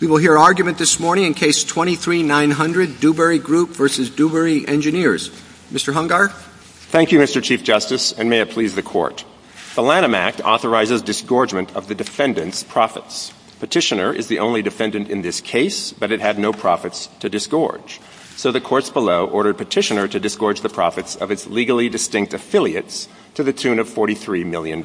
We will hear argument this morning in Case 23-900, Dewberry Group v. Dewberry Engineers. Mr. Hungar? Thank you, Mr. Chief Justice, and may it please the Court. The Lanham Act authorizes disgorgement of the defendant's profits. Petitioner is the only defendant in this case, but it had no profits to disgorge. So the courts below ordered Petitioner to disgorge the profits of its legally distinct affiliates to the tune of $43 million.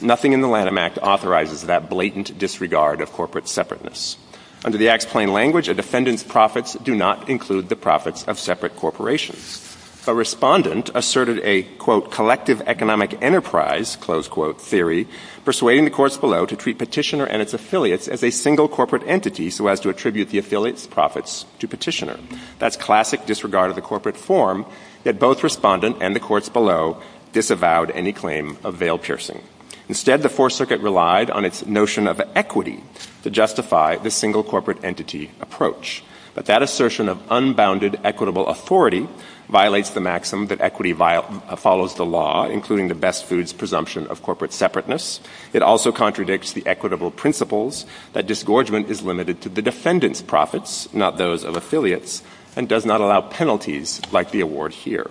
Nothing in the Lanham Act authorizes that blatant disregard of corporate separateness. Under the Act's plain language, a defendant's profits do not include the profits of separate corporations. A respondent asserted a, quote, collective economic enterprise, close quote, theory, persuading the courts below to treat Petitioner and its affiliates as a single corporate entity so as to attribute the affiliates' profits to Petitioner. That's classic disregard of the corporate form, yet both respondent and the courts below disavowed any claim of veil-piercing. Instead, the Fourth Circuit relied on its notion of equity to justify the single corporate entity approach. But that assertion of unbounded equitable authority violates the maxim that equity follows the law, including the best foods presumption of corporate separateness. It also contradicts the equitable principles that disgorgement is limited to the defendant's profits, not those of affiliates, and does not allow penalties like the award here.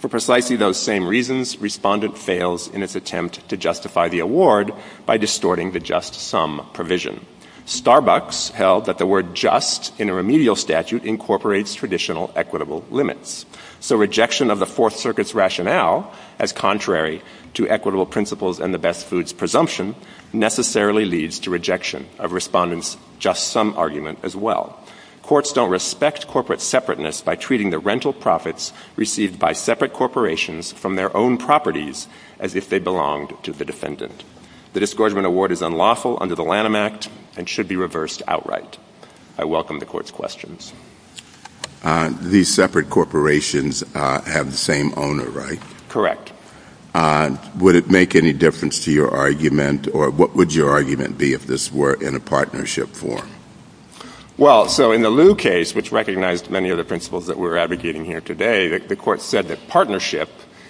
For precisely those same reasons, respondent fails in its attempt to justify the award by distorting the just sum provision. Starbucks held that the word just in a remedial statute incorporates traditional equitable limits. So rejection of the Fourth Circuit's rationale, as contrary to equitable principles and the best foods presumption, necessarily leads to rejection of respondent's just sum argument as well. Courts don't respect corporate separateness by treating the rental profits received by separate corporations from their own properties as if they belonged to the defendant. The disgorgement award is unlawful under the Lanham Act and should be reversed outright. I welcome the court's questions. These separate corporations have the same owner, right? Correct. Would it make any difference to your argument, or what would your argument be if this were in a partnership form? Well, so in the Liu case, which recognized many of the principles that we're advocating here today, the court said that partnership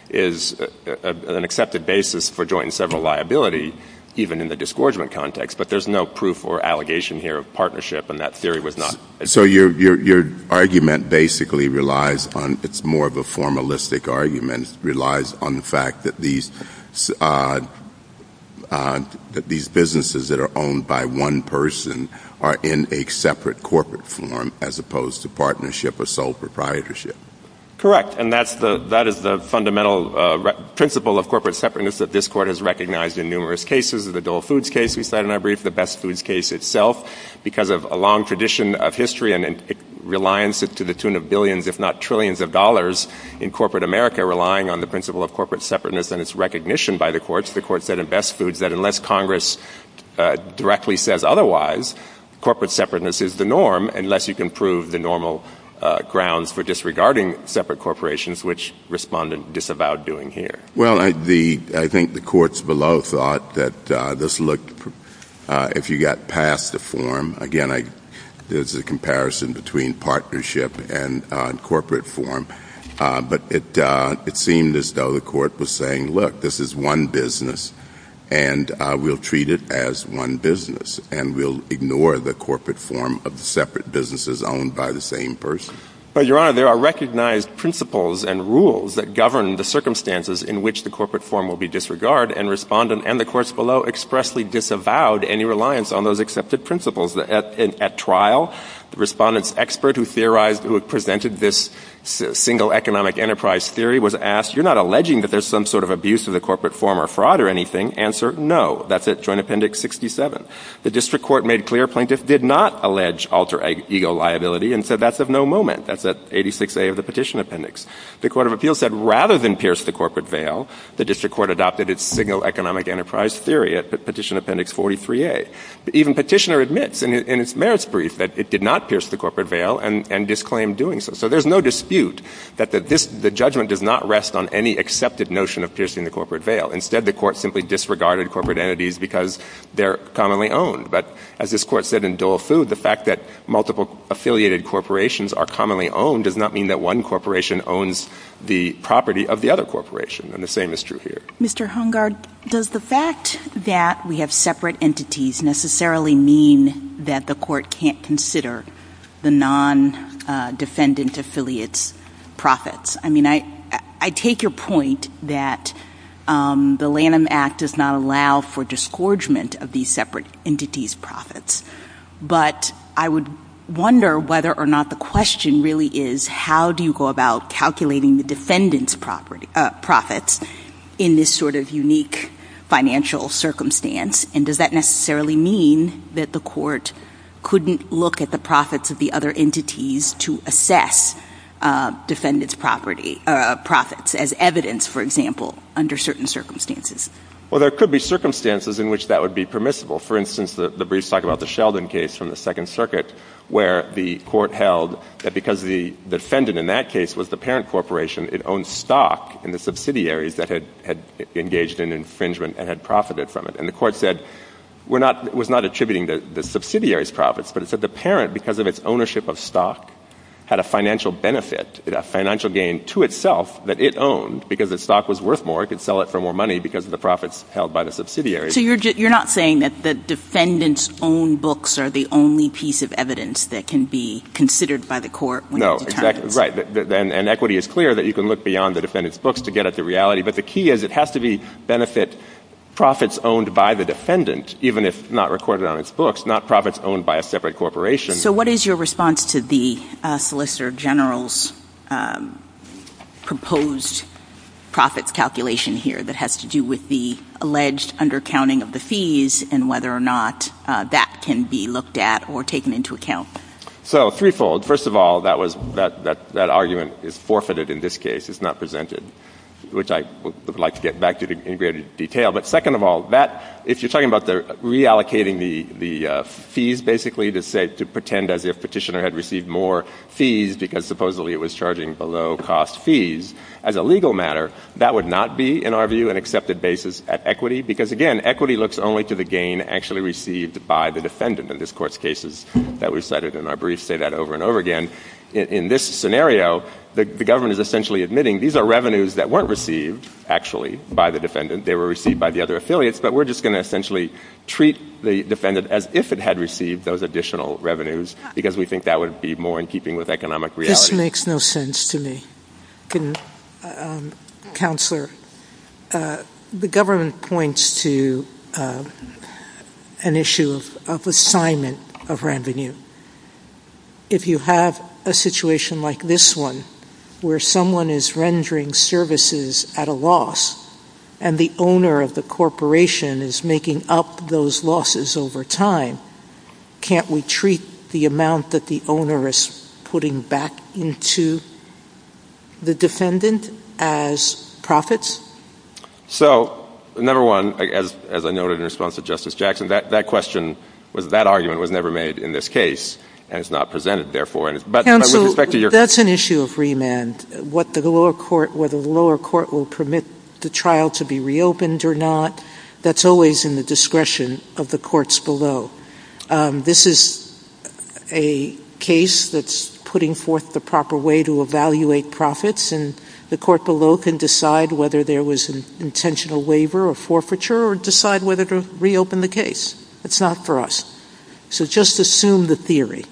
is an accepted basis for joint and several liability, even in the disgorgement context. But there's no proof or allegation here of partnership, and that theory was not. So your argument basically relies on, it's more of a formalistic argument, relies on the fact that these businesses that are owned by one person are in a separate corporate form, as opposed to partnership or sole proprietorship. Correct. And that is the fundamental principle of corporate separateness that this court has recognized in numerous cases. The Dole Foods case we cited in our brief, the Best Foods case itself, because of a long tradition of history and reliance to the tune of billions, if not trillions of dollars, in corporate America relying on the principle of corporate separateness and its recognition by the courts. The court said in Best Foods that unless Congress directly says otherwise, corporate separateness is the norm, unless you can prove the normal grounds for disregarding separate corporations, which Respondent disavowed doing here. Well, I think the courts below thought that this looked, if you got past the form, again, there's a comparison between partnership and corporate form, but it seemed as though the court was saying, look, this is one business, and we'll treat it as one business, and we'll ignore the corporate form of separate businesses owned by the same person. Your Honor, there are recognized principles and rules that govern the circumstances in which the corporate form will be disregarded, and Respondent and the courts below expressly disavowed any reliance on those accepted principles. At trial, the Respondent's expert who theorized, who had presented this single economic enterprise theory was asked, you're not alleging that there's some sort of abuse of the corporate form or fraud or anything? Answer, no. That's it, Joint Appendix 67. The District Court made clear plaintiffs did not allege alter ego liability, and so that's of no moment. That's at 86A of the Petition Appendix. The Court of Appeals said rather than pierce the corporate veil, the District Court adopted its single economic enterprise theory at Petition Appendix 43A. Even Petitioner admits in its merits brief that it did not pierce the corporate veil and disclaimed doing so. So there's no dispute that the judgment does not rest on any accepted notion of piercing the corporate veil. Instead, the court simply disregarded corporate entities because they're commonly owned. But as this court said in Dole Food, the fact that multiple affiliated corporations are commonly owned does not mean that one corporation owns the property of the other corporation, and the same is true here. Mr. Hungard, does the fact that we have separate entities necessarily mean that the court can't consider the non-defendant affiliates' profits? I mean, I take your point that the Lanham Act does not allow for disgorgement of these separate entities' profits, but I would wonder whether or not the question really is how do you go about calculating the defendant's profits in this sort of unique financial circumstance, and does that necessarily mean that the court couldn't look at the profits of the other entities to assess defendants' profits as evidence, for example, under certain circumstances? Well, there could be circumstances in which that would be permissible. For instance, the briefs talk about the Sheldon case from the Second Circuit, where the court held that because the defendant in that case was the parent corporation, it owned stock in the subsidiaries that had engaged in infringement and had profited from it. And the court said it was not attributing the subsidiaries' profits, but it said the parent, because of its ownership of stock, had a financial benefit, a financial gain to itself that it owned because the stock was worth more. It could sell it for more money because of the profits held by the subsidiaries. So you're not saying that the defendant's own books are the only piece of evidence that can be considered by the court? No, exactly right. And equity is clear that you can look beyond the defendant's books to get at the reality, but the key is it has to benefit profits owned by the defendant, even if not recorded on his books, not profits owned by a separate corporation. So what is your response to the solicitor general's proposed profit calculation here that has to do with the alleged undercounting of the fees and whether or not that can be looked at or taken into account? So threefold. First of all, that argument is forfeited in this case. It's not presented, which I would like to get back to in greater detail. But second of all, if you're talking about reallocating the fees, basically, to pretend as if Petitioner had received more fees because supposedly it was charging below-cost fees, as a legal matter, that would not be, in our view, an accepted basis at equity, because, again, equity looks only to the gain actually received by the defendant in this court's cases that we've cited, and I'll say that over and over again. In this scenario, the government is essentially admitting these are revenues that weren't received, actually, by the defendant. They were received by the other affiliates, but we're just going to essentially treat the defendant as if it had received those additional revenues because we think that would be more in keeping with economic reality. This makes no sense to me. Counselor, the government points to an issue of assignment of revenue. If you have a situation like this one, where someone is rendering services at a loss and the owner of the corporation is making up those losses over time, can't we treat the amount that the owner is putting back into the defendant as profits? So, number one, as I noted in response to Justice Jackson, that argument was never made in this case, and it's not presented, therefore. Counsel, that's an issue of remand. Whether the lower court will permit the trial to be reopened or not, that's always in the discretion of the courts below. This is a case that's putting forth the proper way to evaluate profits, and the court below can decide whether there was an intentional waiver or forfeiture or decide whether to reopen the case. It's not for us. So just assume the theory.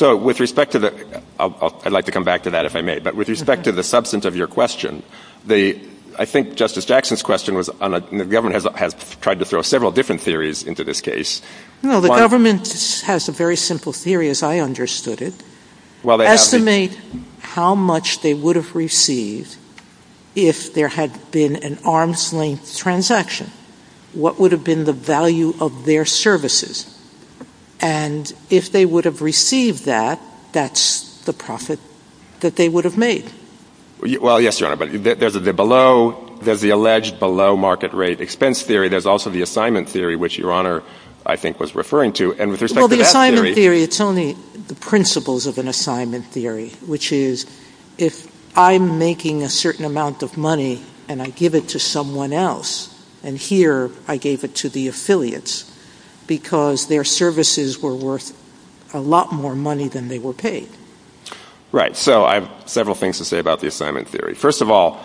I'd like to come back to that, if I may. But with respect to the substance of your question, I think Justice Jackson's question was the government has tried to throw several different theories into this case. No, the government has a very simple theory, as I understood it. Estimate how much they would have received if there had been an arm's-length transaction. What would have been the value of their services? And if they would have received that, that's the profit that they would have made. Well, yes, Your Honor, but there's the alleged below-market-rate expense theory. There's also the assignment theory, which Your Honor, I think, was referring to. Well, the assignment theory, it's only the principles of an assignment theory, which is if I'm making a certain amount of money and I give it to someone else, and here I gave it to the affiliates because their services were worth a lot more money than they were paid. Right. So I have several things to say about the assignment theory. First of all,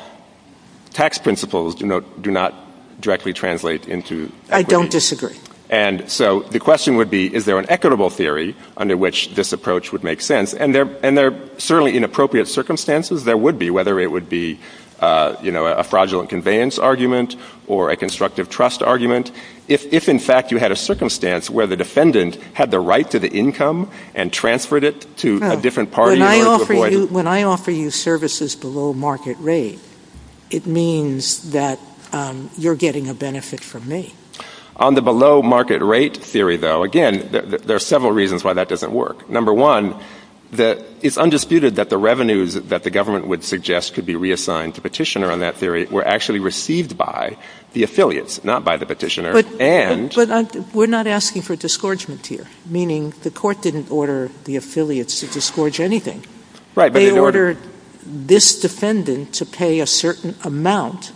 tax principles do not directly translate into equity. I don't disagree. And so the question would be, is there an equitable theory under which this approach would make sense? And there are certainly inappropriate circumstances there would be, whether it would be a fraudulent conveyance argument or a constructive trust argument, if, in fact, you had a circumstance where the defendant had the right to the income and transferred it to a different party in order to avoid it. When I offer you services below market rate, it means that you're getting a benefit from me. On the below market rate theory, though, again, there are several reasons why that doesn't work. Number one, it's undisputed that the revenues that the government would suggest could be reassigned to petitioner on that theory were actually received by the affiliates, not by the petitioner. But we're not asking for disgorgement here, meaning the court didn't order the affiliates to disgorge anything. They ordered this defendant to pay a certain amount,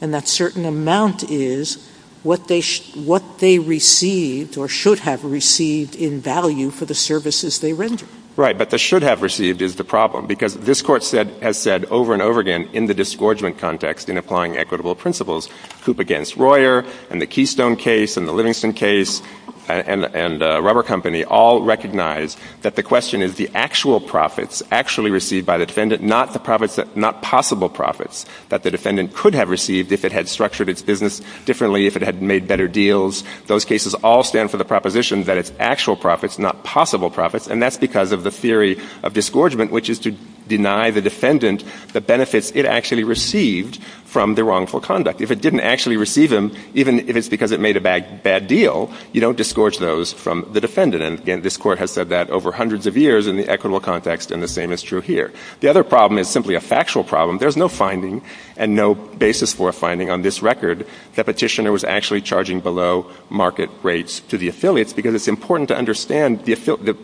and that certain amount is what they received or should have received in value for the services they rendered. Right, but the should have received is the problem because this court has said over and over again in the disgorgement context in applying equitable principles, Coop against Royer and the Keystone case and the Livingston case and the rubber company all recognize that the question is the actual profits actually received by the defendant, not possible profits that the defendant could have received if it had structured its business differently, if it had made better deals. Those cases all stand for the proposition that it's actual profits, not possible profits, and that's because of the theory of disgorgement, which is to deny the defendant the benefits it actually received from the wrongful conduct. If it didn't actually receive them, even if it's because it made a bad deal, you don't disgorge those from the defendant. And again, this court has said that over hundreds of years in the equitable context, and the same is true here. The other problem is simply a factual problem. There's no finding and no basis for a finding on this record that the petitioner was actually charging below market rates to the affiliates because it's important to understand the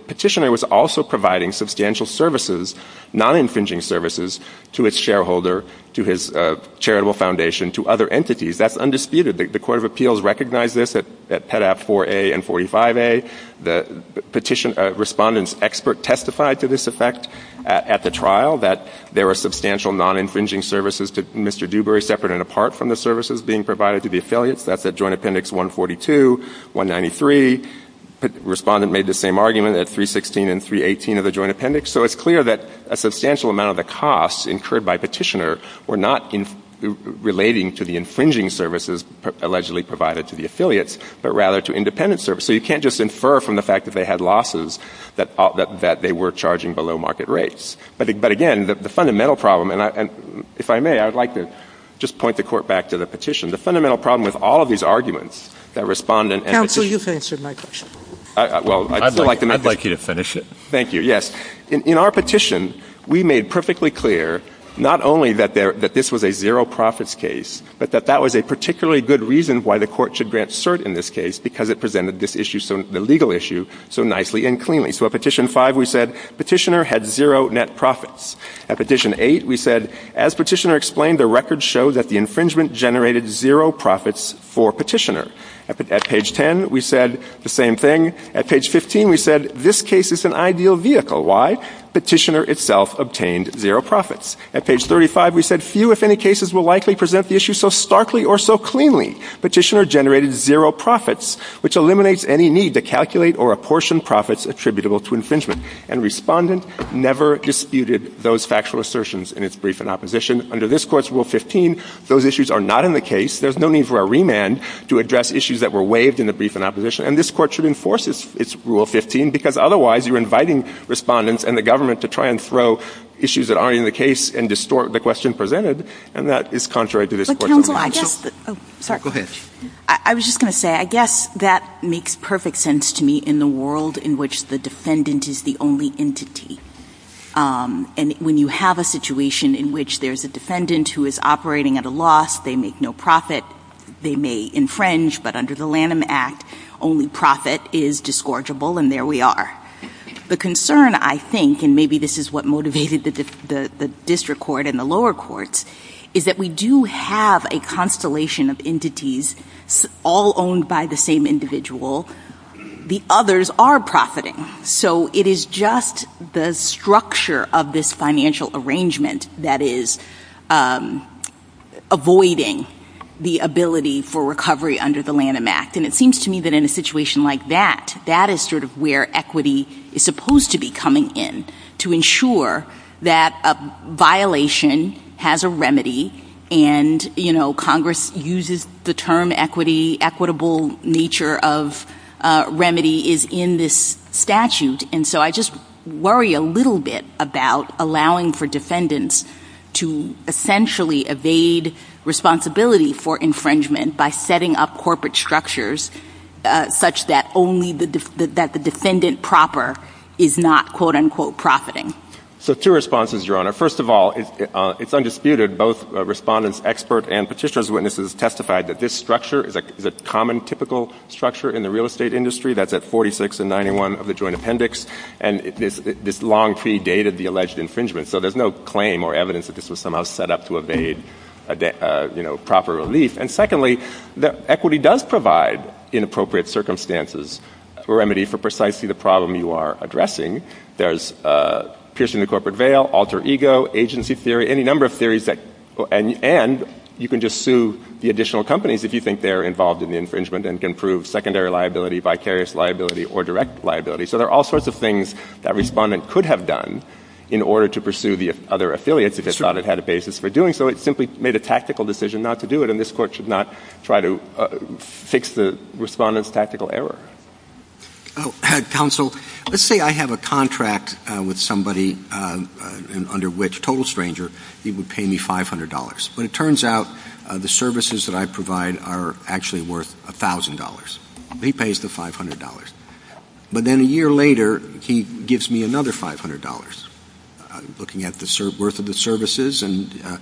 petitioner was also providing substantial services, non-infringing services to its shareholder, to his charitable foundation, to other entities. That's undisputed. The Court of Appeals recognized this at Pet. Act 4A and 45A. The respondent's expert testified to this effect at the trial, that there were substantial non-infringing services to Mr. Dewberry separate and apart from the services being provided to the affiliates. That's at Joint Appendix 142, 193. Respondent made the same argument at 316 and 318 of the Joint Appendix. So it's clear that a substantial amount of the costs incurred by petitioner were not relating to the infringing services allegedly provided to the affiliates, but rather to independent services. So you can't just infer from the fact that they had losses that they were charging below market rates. But, again, the fundamental problem, and if I may, I would like to just point the Court back to the petition. The fundamental problem with all of these arguments, the respondent and the petitioner. Counsel, you've answered my question. I'd like you to finish it. Thank you, yes. In our petition, we made perfectly clear not only that this was a zero profits case, but that that was a particularly good reason why the Court should grant cert in this case because it presented this issue, the legal issue, so nicely and cleanly. So at Petition 5, we said petitioner had zero net profits. At Petition 8, we said as petitioner explained, the record shows that the infringement generated zero profits for petitioner. At Page 10, we said the same thing. At Page 15, we said this case is an ideal vehicle. Why? Petitioner itself obtained zero profits. At Page 35, we said few, if any, cases will likely present the issue so starkly or so cleanly. Petitioner generated zero profits, which eliminates any need to calculate or apportion profits attributable to infringement. And Respondent never disputed those factual assertions in its brief in opposition. Under this Court's Rule 15, those issues are not in the case. There's no need for a remand to address issues that were waived in the brief in opposition. And this Court should enforce its Rule 15 because otherwise you're inviting Respondents and the government to try and throw issues that aren't in the case and distort the question presented. And that is contrary to this Court's rule. I was just going to say, I guess that makes perfect sense to me in the world in which the defendant is the only entity. And when you have a situation in which there's a defendant who is operating at a loss, they make no profit, they may infringe, but under the Lanham Act, only profit is disgorgeable, and there we are. The concern, I think, and maybe this is what motivated the District Court and the lower courts, is that we do have a constellation of entities all owned by the same individual. The others are profiting. So it is just the structure of this financial arrangement that is avoiding the ability for recovery under the Lanham Act. And it seems to me that in a situation like that, that is sort of where equity is supposed to be coming in to ensure that a violation has a remedy. And, you know, Congress uses the term equity, equitable nature of remedy is in this statute. And so I just worry a little bit about allowing for defendants to essentially evade responsibility for infringement by setting up corporate structures such that only the defendant proper is not quote-unquote profiting. So two responses, Your Honor. First of all, it's undisputed, both respondents, experts, and petitioner's witnesses testified that this structure is a common, typical structure in the real estate industry. That's at 46 and 91 of the Joint Appendix. And this long pre-dated the alleged infringement. So there's no claim or evidence that this was somehow set up to evade proper relief. And secondly, equity does provide inappropriate circumstances for remedy for precisely the problem you are addressing. There's piercing the corporate veil, alter ego, agency theory, any number of theories. And you can just sue the additional companies if you think they're involved in the infringement and can prove secondary liability, vicarious liability, or direct liability. So there are all sorts of things that a respondent could have done in order to pursue the other affiliates if they thought it had a basis for doing so. It simply made a tactical decision not to do it, and this Court should not try to fix the respondent's tactical error. Counsel, let's say I have a contract with somebody under which, total stranger, he would pay me $500. But it turns out the services that I provide are actually worth $1,000. He pays the $500. But then a year later, he gives me another $500, looking at the worth of the services and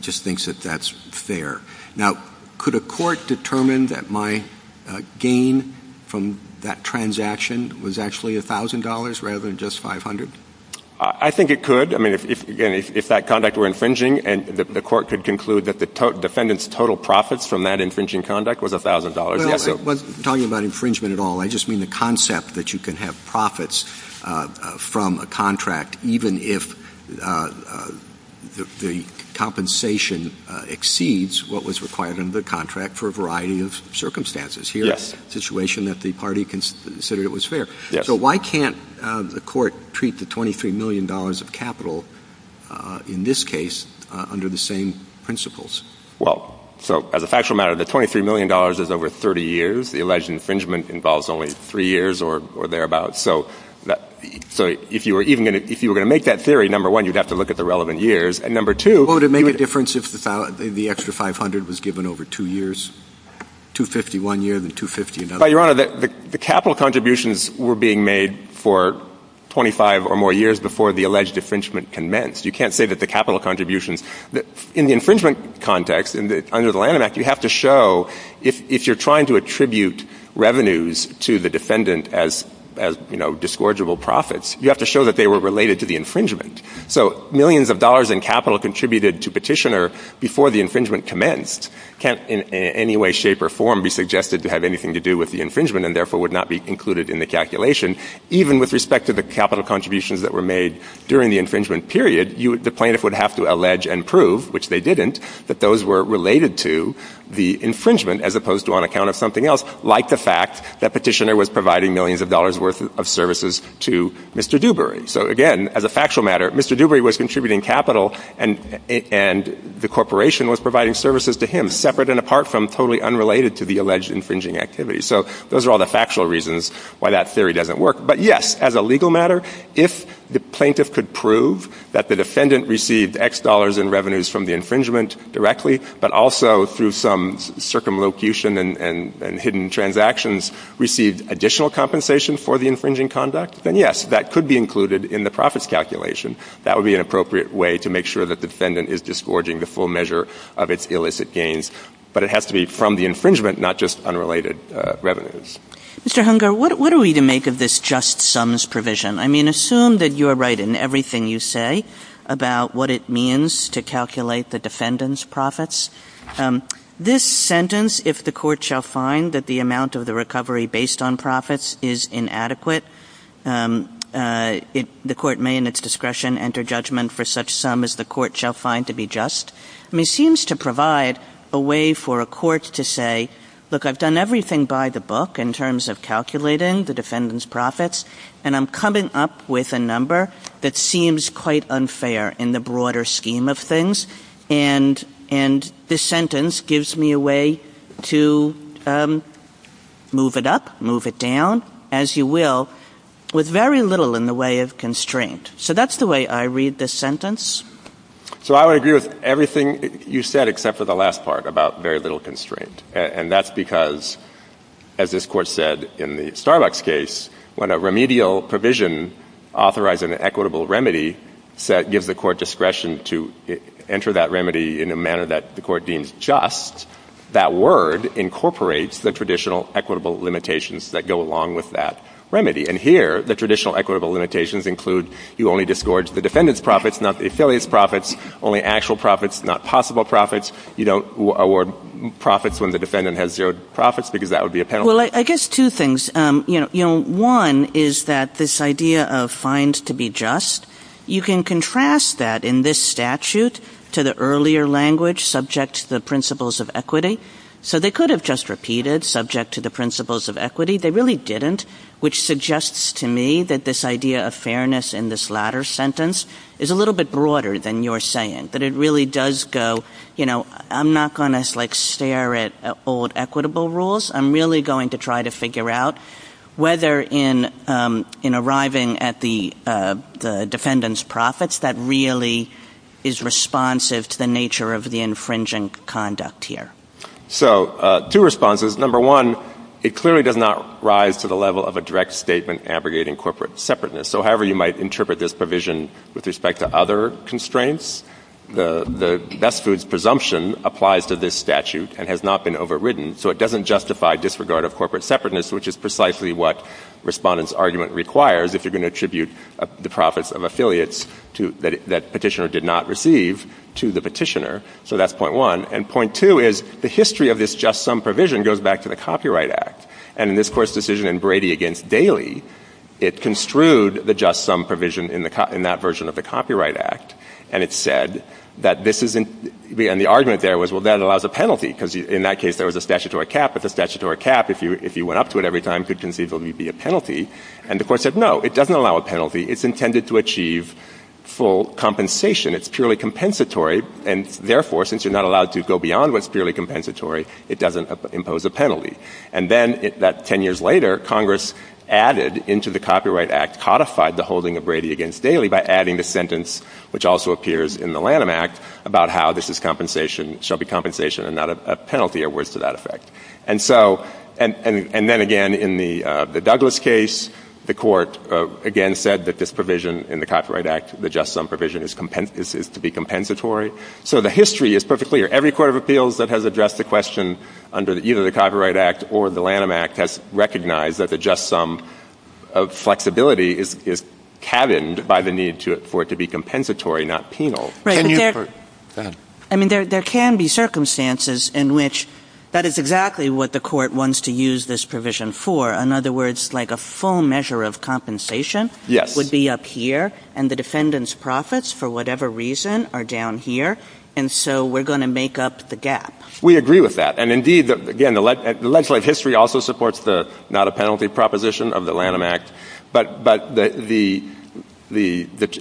just thinks that that's fair. Now, could a court determine that my gain from that transaction was actually $1,000 rather than just $500? I think it could. I mean, again, if that contact were infringing, the Court could conclude that the defendant's total profits from that infringing conduct was $1,000. I'm not talking about infringement at all. I just mean the concept that you can have profits from a contract even if the compensation exceeds what was required under the contract for a variety of circumstances. Here's a situation that the party considered it was fair. So why can't the Court treat the $23 million of capital, in this case, under the same principles? Well, so as a factual matter, the $23 million is over 30 years. The alleged infringement involves only three years or thereabouts. So if you were going to make that theory, number one, you'd have to look at the relevant years, and number two, Well, it would make a difference if the extra $500 was given over two years, $250 one year and $250 another. But, Your Honor, the capital contributions were being made for 25 or more years before the alleged infringement commenced. You can't say that the capital contributions... In the infringement context, under the Lanham Act, you have to show, if you're trying to attribute revenues to the defendant as, you know, disgorgeable profits, you have to show that they were related to the infringement. So millions of dollars in capital contributed to Petitioner before the infringement commenced can't in any way, shape, or form be suggested to have anything to do with the infringement and therefore would not be included in the calculation. Even with respect to the capital contributions that were made during the infringement period, the plaintiff would have to allege and prove, which they didn't, that those were related to the infringement as opposed to on account of something else, like the fact that Petitioner was providing millions of dollars worth of services to Mr. Dewberry. So again, as a factual matter, Mr. Dewberry was contributing capital and the corporation was providing services to him, separate and apart from, totally unrelated to the alleged infringing activity. So those are all the factual reasons why that theory doesn't work. But yes, as a legal matter, if the plaintiff could prove that the defendant received X dollars in revenues from the infringement directly, but also through some circumlocution and hidden transactions received additional compensation for the infringing conduct, then yes, that could be included in the profits calculation. That would be an appropriate way to make sure that the defendant is disgorging the full measure of its illicit gains. But it has to be from the infringement, not just unrelated revenues. Mr. Hunger, what are we to make of this just sums provision? I mean, assume that you are right in everything you say about what it means to calculate the defendant's profits. This sentence, if the court shall find that the amount of the recovery based on profits is inadequate, the court may in its discretion enter judgment for such sum as the court shall find to be just, I mean, seems to provide a way for a court to say, look, I've done everything by the book in terms of calculating the defendant's profits, and I'm coming up with a number that seems quite unfair in the broader scheme of things, and this sentence gives me a way to move it up, move it down, as you will, with very little in the way of constraint. So that's the way I read this sentence. So I would agree with everything you said except for the last part about very little constraint, and that's because, as this court said in the Starbucks case, when a remedial provision authorizing an equitable remedy gives the court discretion to enter that remedy in a manner that the court deems just, that word incorporates the traditional equitable limitations that go along with that remedy, and here the traditional equitable limitations include you only disgorge the defendant's profits, not the affiliate's profits, only actual profits, not possible profits. You don't award profits when the defendant has zero profits, because that would be a penalty. Well, I guess two things. One is that this idea of fines to be just, you can contrast that in this statute to the earlier language subject to the principles of equity, so they could have just repeated subject to the principles of equity. They really didn't, which suggests to me that this idea of fairness in this latter sentence is a little bit broader than you're saying, that it really does go, you know, I'm not going to stare at old equitable rules. I'm really going to try to figure out whether in arriving at the defendant's profits that really is responsive to the nature of the infringing conduct here. So two responses. Number one, it clearly does not rise to the level of a direct statement abrogating corporate separateness. So however you might interpret this provision with respect to other constraints, the best foods presumption applies to this statute and has not been overridden. So it doesn't justify disregard of corporate separateness, which is precisely what respondents' argument requires if you're going to attribute the profits of affiliates that petitioner did not receive to the petitioner. So that's point one. And point two is the history of this just sum provision goes back to the Copyright Act. And in this court's decision in Brady against Bailey, it construed the just sum provision in that version of the Copyright Act. And it said that this isn't... And the argument there was, well, that allows a penalty because in that case, there was a statutory cap. But the statutory cap, if you went up to it every time, could conceivably be a penalty. And the court said, no, it doesn't allow a penalty. It's intended to achieve full compensation. It's purely compensatory. And therefore, since you're not allowed to go beyond what's purely compensatory, it doesn't impose a penalty. And then 10 years later, Congress added into the Copyright Act, codified the holding of Brady against Bailey by adding the sentence, which also appears in the Lanham Act, about how this shall be compensation and not a penalty or words to that effect. And then again, in the Douglas case, the court again said that this provision in the Copyright Act, the just sum provision, is to be compensatory. So the history is perfectly clear. Every court of appeals that has addressed the question under either the Copyright Act or the Lanham Act has recognized that the just sum of flexibility is cabined by the need for it to be compensatory, not penal. I mean, there can be circumstances in which that is exactly what the court wants to use this provision for. In other words, like a full measure of compensation would be up here. And the defendant's profits, for whatever reason, are down here. And so we're going to make up the gap. We agree with that. And indeed, again, the legislative history also supports the not a penalty proposition of the Lanham Act. But the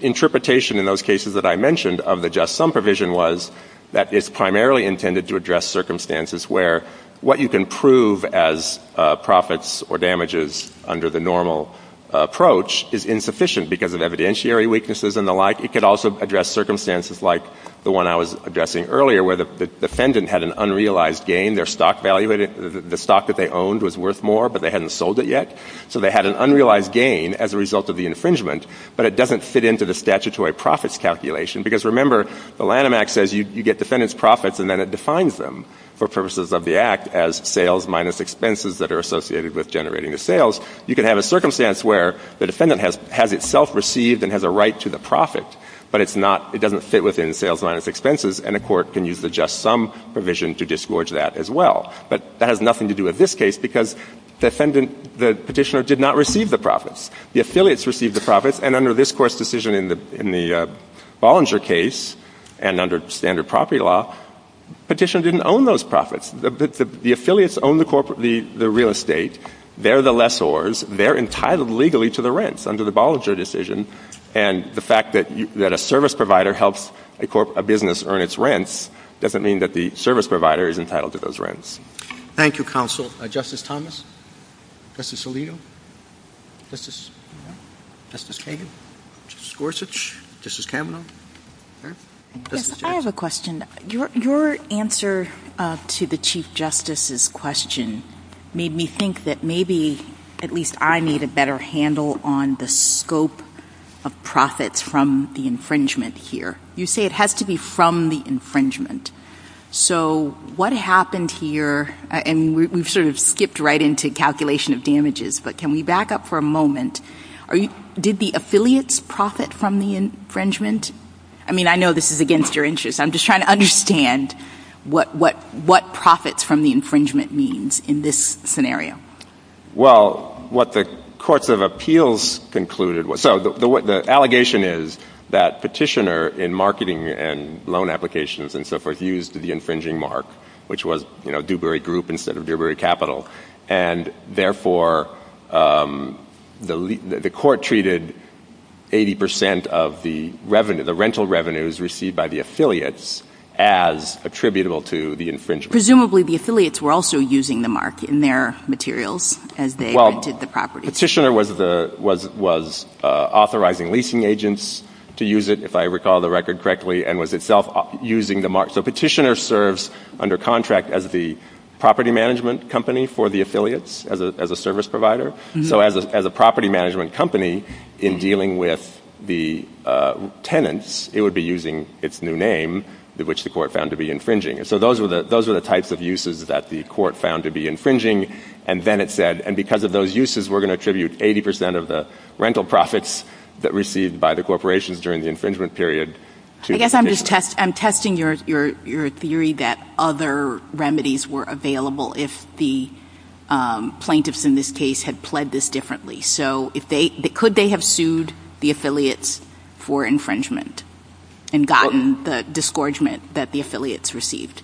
interpretation in those cases that I mentioned of the just sum provision was that it's primarily intended to address circumstances where what you can prove as profits or damages under the normal approach is insufficient because of evidentiary weaknesses and the like. It could also address circumstances like the one I was addressing earlier, where the defendant had an unrealized gain. Their stock value, the stock that they owned was worth more. But they hadn't sold it yet. So they had an unrealized gain as a result of the infringement. But it doesn't fit into the statutory profits calculation. Because remember, the Lanham Act says you get defendant's profits. And then it defines them for purposes of the Act as sales minus expenses that are associated with generating the sales. You can have a circumstance where the defendant has itself received and has a right to the profit. But it doesn't fit within sales minus expenses. And a court can use the just sum provision to disgorge that as well. But that has nothing to do with this case because the petitioner did not receive the profits. The affiliates received the profits. And under this court's decision in the Bollinger case and under standard property law, petitioner didn't own those profits. The affiliates own the real estate. They're the lessors. They're entitled legally to the rents under the Bollinger decision. And the fact that a service provider helps a business earn its rents doesn't mean that the service provider is entitled to those rents. Thank you, counsel. Justice Thomas? Justice Alito? Justice Kagan? Justice Gorsuch? Justice Kavanaugh? Yes, I have a question. Your answer to the Chief Justice's question made me think that maybe at least I need a better handle on the scope of profits from the infringement here. You say it has to be from the infringement. So what happened here, and we've sort of skipped right into calculation of damages, but can we back up for a moment? Did the affiliates profit from the infringement? I mean, I know this is against your interests. I'm just trying to understand what profits from the infringement means in this scenario. Well, what the courts of appeals concluded, so the allegation is that Petitioner in marketing and loan applications and so forth used the infringing mark, which was Dewberry Group instead of Dewberry Capital. And therefore, the court treated 80% of the rental revenues received by the affiliates as attributable to the infringement. Presumably, the affiliates were also using the mark in their materials as they vented the property. Petitioner was authorizing leasing agents to use it, if I recall the record correctly, and was itself using the mark. So Petitioner serves under contract as the property management company for the affiliates as a service provider. So as a property management company in dealing with the tenants, it would be using its new name, which the court found to be infringing. So those are the types of uses that the court found to be infringing. And then it said, and because of those uses, we're going to attribute 80% of the rental profits that received by the corporations during the infringement period to Petitioner. I guess I'm just testing your theory that other remedies were available if the plaintiffs in this case had pled this differently. So could they have sued the affiliates for infringement and gotten the disgorgement that the affiliates received?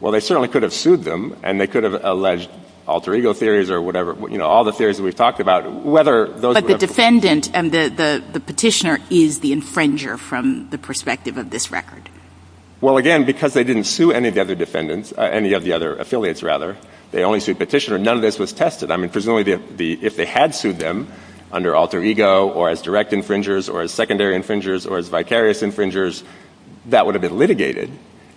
Well, they certainly could have sued them. And they could have alleged alter ego theories or whatever. All the theories that we've talked about. But the defendant and the Petitioner is the infringer from the perspective of this record. Well, again, because they didn't sue any of the other affiliates, they only sued Petitioner. None of this was tested. Presumably, if they had sued them under alter ego or as direct infringers or as secondary infringers or as vicarious infringers, that would have been litigated.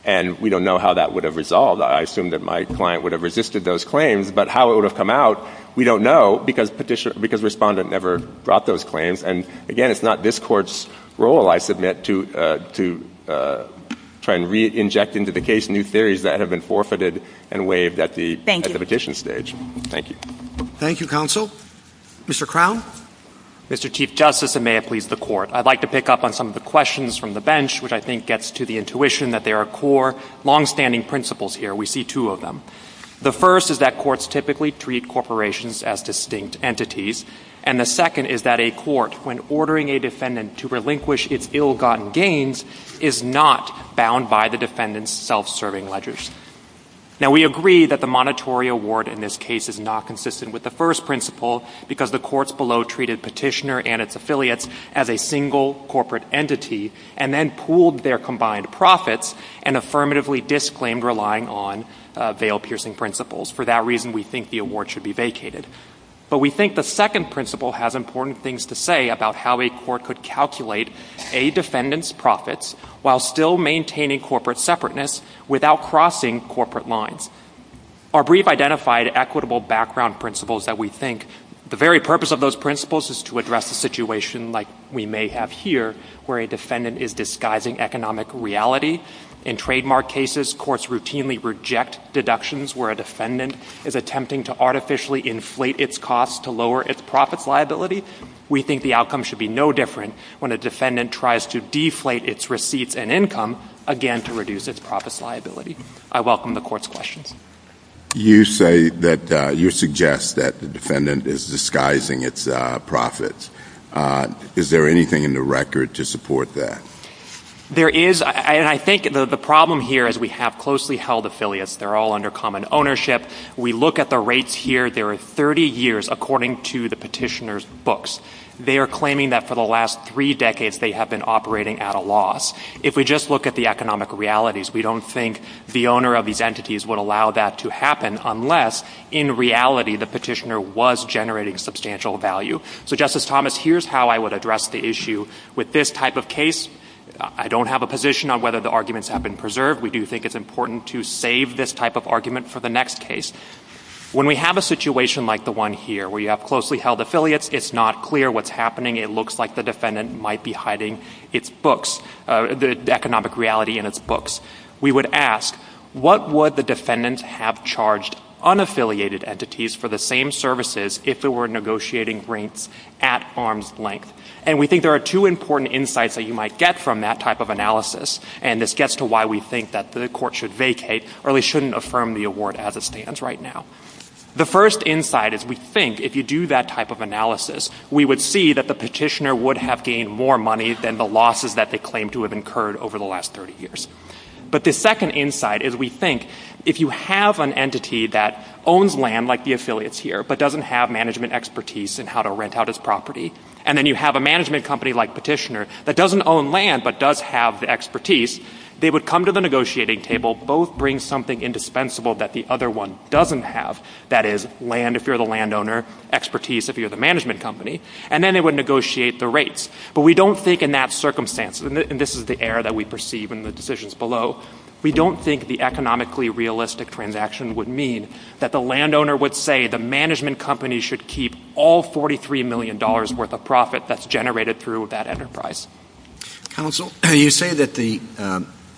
And we don't know how that would have resolved. I assume that my client would have resisted those claims. But how it would have come out, we don't know because Respondent never brought those claims. And again, it's not this Court's role, I submit, to try and re-inject into the case new theories that have been forfeited and waived at the petition stage. Thank you. Thank you, Counsel. Mr. Crown? Mr. Chief Justice, and may it please the Court, I'd like to pick up on some of the questions from the bench, which I think gets to the intuition that there are core, longstanding principles here. We see two of them. The first is that courts typically treat corporations as distinct entities. And the second is that a court, when ordering a defendant to relinquish its ill-gotten gains, is not bound by the defendant's self-serving ledgers. Now, we agree that the monetary award in this case is not consistent with the first principle because the courts below treated Petitioner and its affiliates as a single corporate entity and then pooled their combined profits and affirmatively disclaimed relying on bail-piercing principles. For that reason, we think the award should be vacated. But we think the second principle has important things to say about how a court could calculate a defendant's profits while still maintaining corporate separateness without crossing corporate lines. Our brief identified equitable background principles that we think the very purpose of those principles is to address the situation, like we may have here, where a defendant is disguising economic reality in trademark cases. Courts routinely reject deductions where a defendant is attempting to artificially inflate its costs to lower its profits liability. We think the outcome should be no different when a defendant tries to deflate its receipts and income, again, to reduce its profits liability. I welcome the court's questions. You say that you suggest that the defendant is disguising its profits. Is there anything in the record to support that? There is, and I think the problem here is we have closely held affiliates. They're all under common ownership. We look at the rates here. There are 30 years, according to the petitioner's books. They are claiming that for the last three decades they have been operating at a loss. If we just look at the economic realities, we don't think the owner of these entities would allow that to happen unless, in reality, the petitioner was generating substantial value. So, Justice Thomas, here's how I would address the issue with this type of case. I don't have a position on whether the arguments have been preserved. We do think it's important to save this type of argument for the next case. When we have a situation like the one here where you have closely held affiliates, it's not clear what's happening. It looks like the defendant might be hiding its books, the economic reality in its books. We would ask, what would the defendants have charged unaffiliated entities for the same services if they were negotiating rates at arm's length? And we think there are two important insights that you might get from that type of analysis, and this gets to why we think that the court should vacate or at least shouldn't affirm the award as it stands right now. The first insight is we think if you do that type of analysis, we would see that the petitioner would have gained more money than the losses that they claim to have incurred over the last 30 years. But the second insight is we think if you have an entity that owns land like the affiliates here but doesn't have management expertise in how to rent out its property, and then you have a management company like petitioner that doesn't own land but does have the expertise, they would come to the negotiating table, both bring something indispensable that the other one doesn't have, that is, land if you're the landowner, expertise if you're the management company, and then they would negotiate the rates. But we don't think in that circumstance, and this is the error that we perceive in the decisions below, we don't think the economically realistic transaction would mean that the landowner would say the management company should keep all $43 million worth of profit that's generated through that enterprise. Counsel, you say that the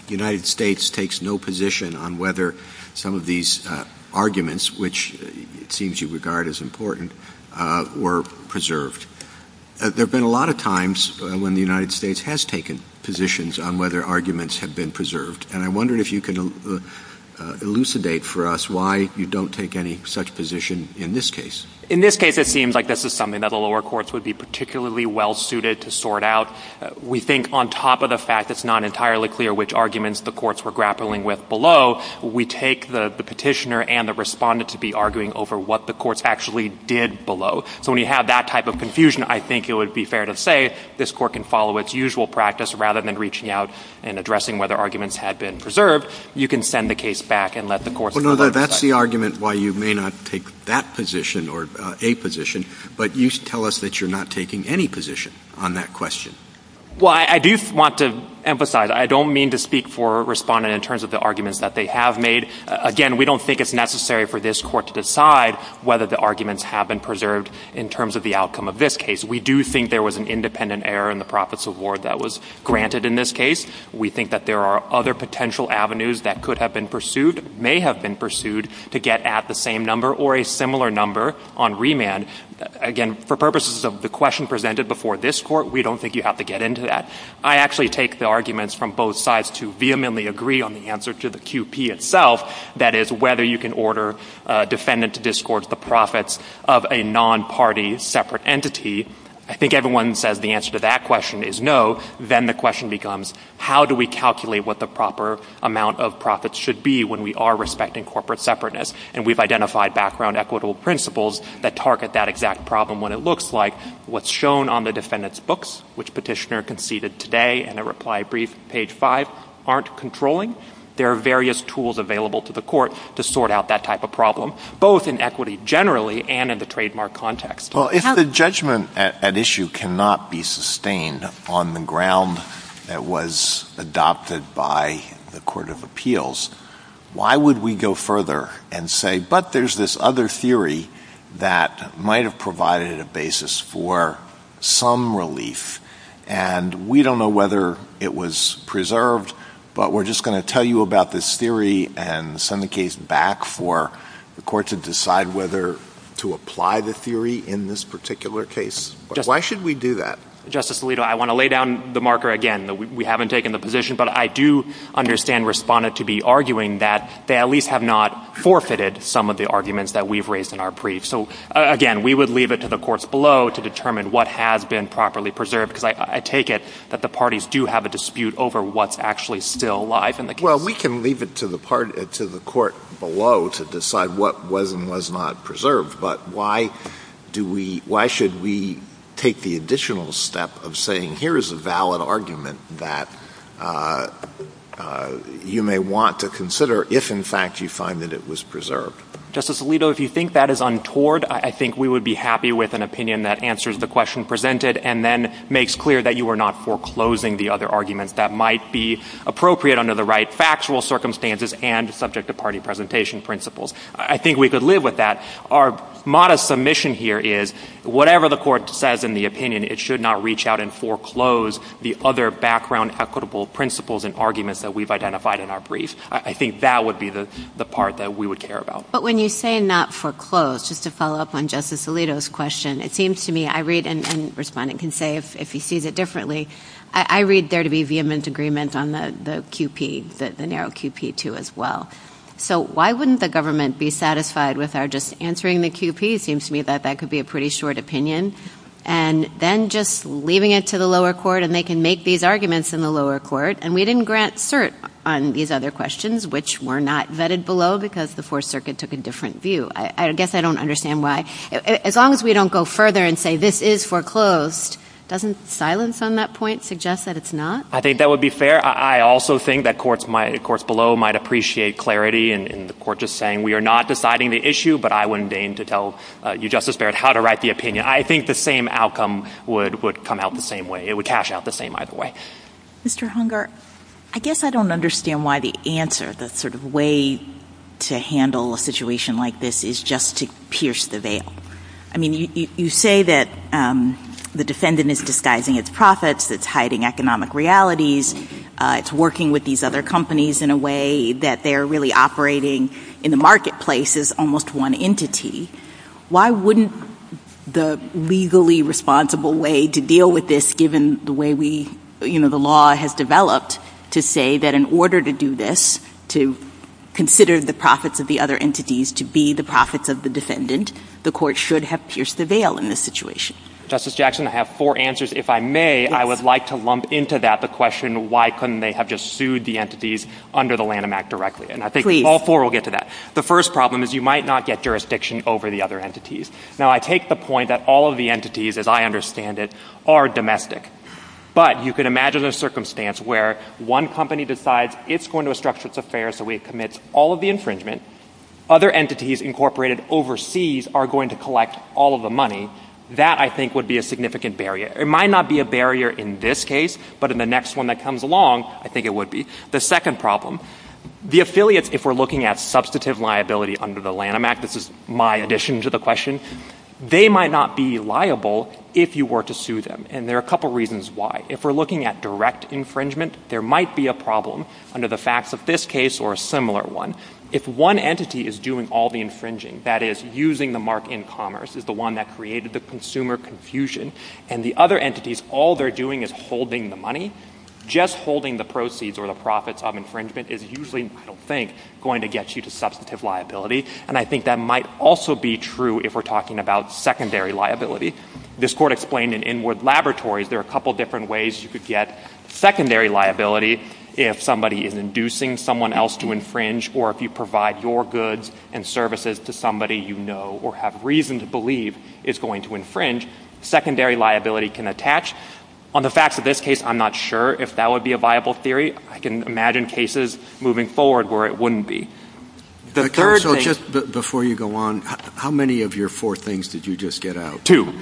United States takes no position on whether some of these arguments, which it seems you regard as important, were preserved. There have been a lot of times when the United States has taken positions on whether arguments have been preserved, and I'm wondering if you can elucidate for us why you don't take any such position in this case. In this case, it seems like this is something that the lower courts would be particularly well-suited to sort out. We think on top of the fact that it's not entirely clear which arguments the courts were grappling with below, we take the petitioner and the respondent to be arguing over what the courts actually did below. So when you have that type of confusion, I think it would be fair to say this court can follow its usual practice. Rather than reaching out and addressing whether arguments had been preserved, you can send the case back and let the courts... Well, no, that's the argument why you may not take that position or a position, but you tell us that you're not taking any position on that question. Well, I do want to emphasize I don't mean to speak for a respondent in terms of the arguments that they have made. Again, we don't think it's necessary for this court to decide whether the arguments have been preserved in terms of the outcome of this case. We do think there was an independent error in the profits award that was granted in this case. We think that there are other potential avenues that could have been pursued, may have been pursued, to get at the same number or a similar number on remand. Again, for purposes of the question presented before this court, we don't think you have to get into that. I actually take the arguments from both sides to vehemently agree on the answer to the QP itself, that is, whether you can order a defendant to discourse the profits of a non-party separate entity. I think everyone says the answer to that question is no. Then the question becomes, how do we calculate what the proper amount of profits should be when we are respecting corporate separateness? And we've identified background equitable principles that target that exact problem when it looks like what's shown on the defendant's books, which Petitioner conceded today in a reply brief, page 5, aren't controlling. There are various tools available to the court to sort out that type of problem, both in equity generally and in the trademark context. Well, if the judgment at issue cannot be sustained on the ground that was adopted by the Court of Appeals, why would we go further and say, but there's this other theory that might have provided a basis for some relief, and we don't know whether it was preserved, but we're just going to tell you about this theory and send the case back for the court to decide whether to apply the theory in this particular case. Why should we do that? Justice Alito, I want to lay down the marker again. We haven't taken the position, but I do understand Respondent to be arguing that they at least have not forfeited some of the arguments that we've raised in our brief. So, again, we would leave it to the courts below to determine what has been properly preserved, because I take it that the parties do have a dispute over what's actually still alive in the case. Well, we can leave it to the court below to decide what was and was not preserved, but why should we take the additional step of saying, here is a valid argument that you may want to consider if, in fact, you find that it was preserved? Justice Alito, if you think that is untoward, I think we would be happy with an opinion that answers the question presented and then makes clear that you were not foreclosing the other arguments that might be appropriate under the right factual circumstances and subject-to-party presentation principles. I think we could live with that. Our modest submission here is, whatever the court says in the opinion, it should not reach out and foreclose the other background equitable principles and arguments that we've identified in our brief. I think that would be the part that we would care about. But when you say not foreclose, just to follow up on Justice Alito's question, it seems to me I read, and the respondent can say if he sees it differently, I read there to be vehement agreements on the QP, the narrow QP2 as well. So why wouldn't the government be satisfied with our just answering the QP? It seems to me that that could be a pretty short opinion, and then just leaving it to the lower court, and they can make these arguments in the lower court, and we didn't grant cert on these other questions, which were not vetted below because the Fourth Circuit took a different view. I guess I don't understand why. As long as we don't go further and say this is foreclosed, doesn't silence on that point suggest that it's not? I think that would be fair. I also think that courts below might appreciate clarity in the court just saying we are not deciding the issue, but I wouldn't deign to tell you, Justice Barrett, how to write the opinion. I think the same outcome would come out the same way. It would cash out the same either way. Mr. Hunger, I guess I don't understand why the answer, the sort of way to handle a situation like this is just to pierce the veil. I mean, you say that the defendant is disguising its profits, that it's hiding economic realities, it's working with these other companies in a way that they're really operating in the marketplace as almost one entity. Why wouldn't the legally responsible way to deal with this, given the way the law has developed, to say that in order to do this, to consider the profits of the other entities to be the profits of the defendant, the court should have pierced the veil in this situation? Justice Jackson, I have four answers. If I may, I would like to lump into that the question why couldn't they have just sued the entities under the Lanham Act directly? And I think all four will get to that. The first problem is you might not get jurisdiction over the other entities. Now, I take the point that all of the entities, as I understand it, are domestic. But you can imagine a circumstance where one company decides it's going to restructure its affairs so it commits all of the infringement. Other entities incorporated overseas are going to collect all of the money. That, I think, would be a significant barrier. It might not be a barrier in this case, but in the next one that comes along, I think it would be. The second problem, the affiliates, if we're looking at substantive liability under the Lanham Act, this is my addition to the question, they might not be liable if you were to sue them. And there are a couple reasons why. If we're looking at direct infringement, there might be a problem under the facts of this case or a similar one. If one entity is doing all the infringing, that is, using the mark in commerce, is the one that created the consumer confusion, and the other entities, all they're doing is holding the money, just holding the proceeds or the profits of infringement is usually, I don't think, going to get you to substantive liability. And I think that might also be true if we're talking about secondary liability. This court explained in inward laboratories there are a couple of different ways you could get secondary liability if somebody is inducing someone else to infringe or if you provide your goods and services to somebody you know or have reason to believe is going to infringe, secondary liability can attach. On the facts of this case, I'm not sure if that would be a viable theory. I can imagine cases moving forward where it wouldn't be. So just before you go on, how many of your four things did you just get out? Two.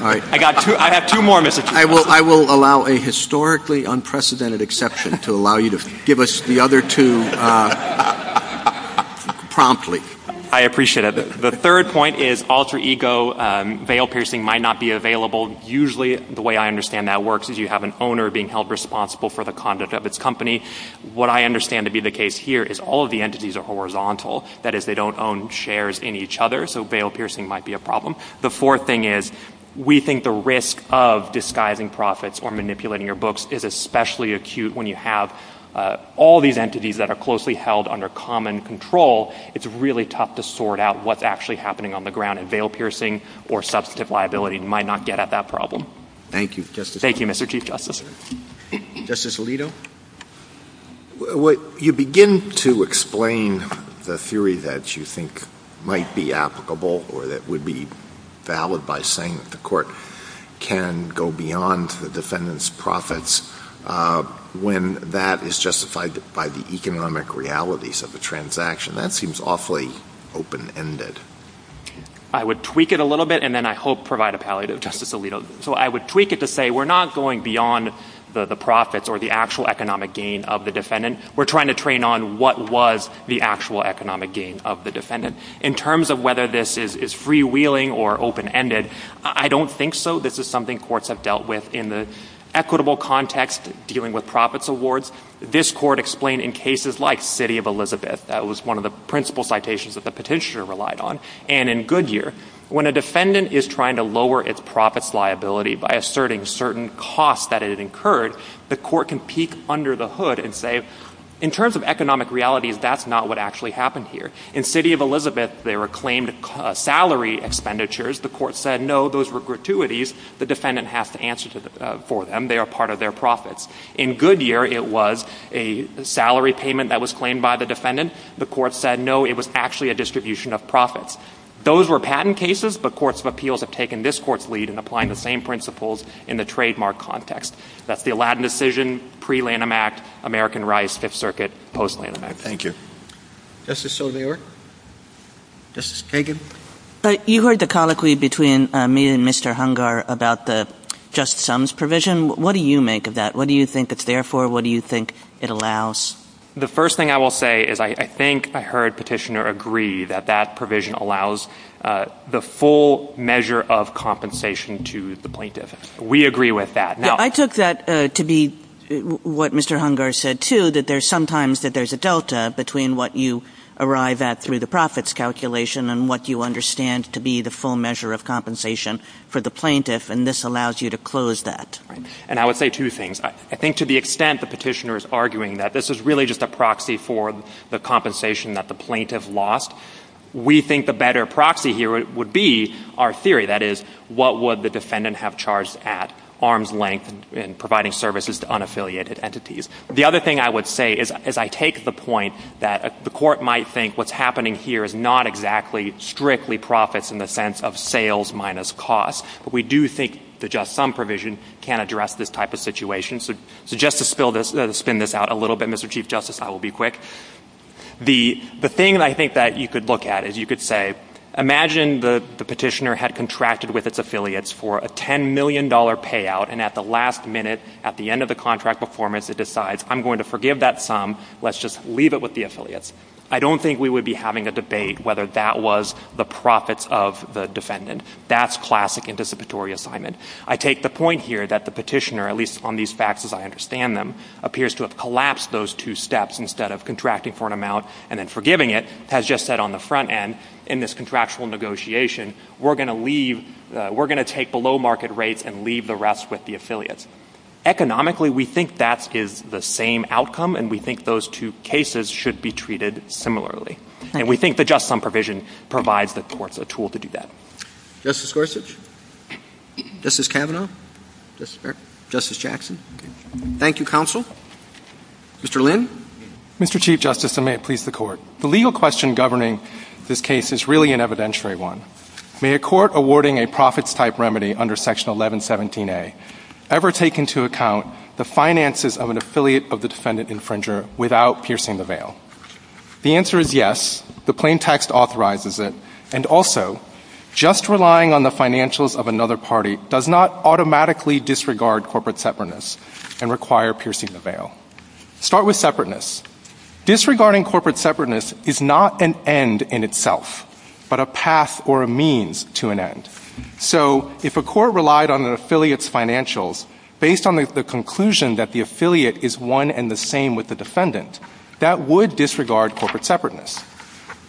I have two more, Mr. Chief. I will allow a historically unprecedented exception to allow you to give us the other two promptly. I appreciate it. The third point is alter ego. Veil piercing might not be available. Usually, the way I understand that works is you have an owner being held responsible for the conduct of its company. What I understand to be the case here is all of the entities are horizontal. That is, they don't own shares in each other, so veil piercing might be a problem. The fourth thing is we think the risk of disguising profits or manipulating your books is especially acute when you have all these entities that are closely held under common control. It's really tough to sort out what's actually happening on the ground, and veil piercing or substantive liability might not get at that problem. Thank you, Justice. Thank you, Mr. Chief Justice. Justice Alito? You begin to explain the theory that you think might be applicable or that would be valid by saying that the court can go beyond the defendant's profits when that is justified by the economic realities of the transaction. That seems awfully open-ended. I would tweak it a little bit, and then I hope provide a palliative, Justice Alito. So I would tweak it to say we're not going beyond the profits or the actual economic gain of the defendant. We're trying to train on what was the actual economic gain of the defendant. In terms of whether this is freewheeling or open-ended, I don't think so. This is something courts have dealt with in the equitable context dealing with profits awards. This court explained in cases like City of Elizabeth, that was one of the principal citations that the petitioner relied on, and in Goodyear, when a defendant is trying to lower its profits liability by asserting certain costs that it incurred, the court can peek under the hood and say, in terms of economic realities, that's not what actually happened here. In City of Elizabeth, there were claimed salary expenditures. The court said, no, those were gratuities. The defendant has to answer for them. They are part of their profits. In Goodyear, it was a salary payment that was claimed by the defendant. The court said, no, it was actually a distribution of profits. Those were patent cases, but courts of appeals have taken this court's lead in applying the same principles in the trademark context. That's the Aladdin decision, pre-Lanham Act, American Rice, Fifth Circuit, post-Lanham Act. Thank you. Justice O'Leary? Justice Kagan? You heard the colloquy between me and Mr. Hungar about the just sums provision. What do you make of that? What do you think it's there for? What do you think it allows? The first thing I will say is, I think I heard petitioner agree that that provision allows the full measure of compensation to the plaintiff. We agree with that. I took that to be what Mr. Hungar said, too, that there's sometimes a delta between what you arrive at through the profits calculation and what you understand to be the full measure of compensation for the plaintiff, and this allows you to close that. And I would say two things. I think to the extent the petitioner is arguing that this is really just a proxy for the compensation that the plaintiff lost, we think the better proxy here would be our theory, that is, what would the defendant have charged at arm's length in providing services to unaffiliated entities? The other thing I would say is, I take the point that the court might think what's happening here is not exactly strictly profits in the sense of sales minus cost, but we do think the just sum provision can address this type of situation. So just to spin this out a little bit, Mr. Chief Justice, I will be quick. The thing I think that you could look at is you could say, imagine the petitioner had contracted with its affiliates for a $10 million payout, and at the last minute at the end of the contract performance it decides, I'm going to forgive that sum, let's just leave it with the affiliates. I don't think we would be having a debate whether that was the profits of the defendant. That's classic anticipatory assignment. I take the point here that the petitioner, at least on these facts as I understand them, appears to have collapsed those two steps instead of contracting for an amount and then forgiving it, has just said on the front end in this contractual negotiation, we're going to take the low market rates and leave the rest with the affiliates. Economically, we think that is the same outcome, and we think those two cases should be treated similarly. And we think the just sum provision provides the courts a tool to do that. Justice Gorsuch? Justice Kavanaugh? Justice Jackson? Thank you, counsel. Mr. Lynn? Mr. Chief Justice, and may it please the Court, the legal question governing this case is really an evidentiary one. May a court awarding a profits-type remedy under Section 1117A ever take into account the finances of an affiliate of the defendant-infringer without piercing the veil? The answer is yes. The plain text authorizes it. And also, just relying on the financials of another party does not automatically disregard corporate separateness and require piercing the veil. Start with separateness. Disregarding corporate separateness is not an end in itself, but a path or a means to an end. So if a court relied on an affiliate's financials based on the conclusion that the affiliate is one and the same with the defendant, that would disregard corporate separateness.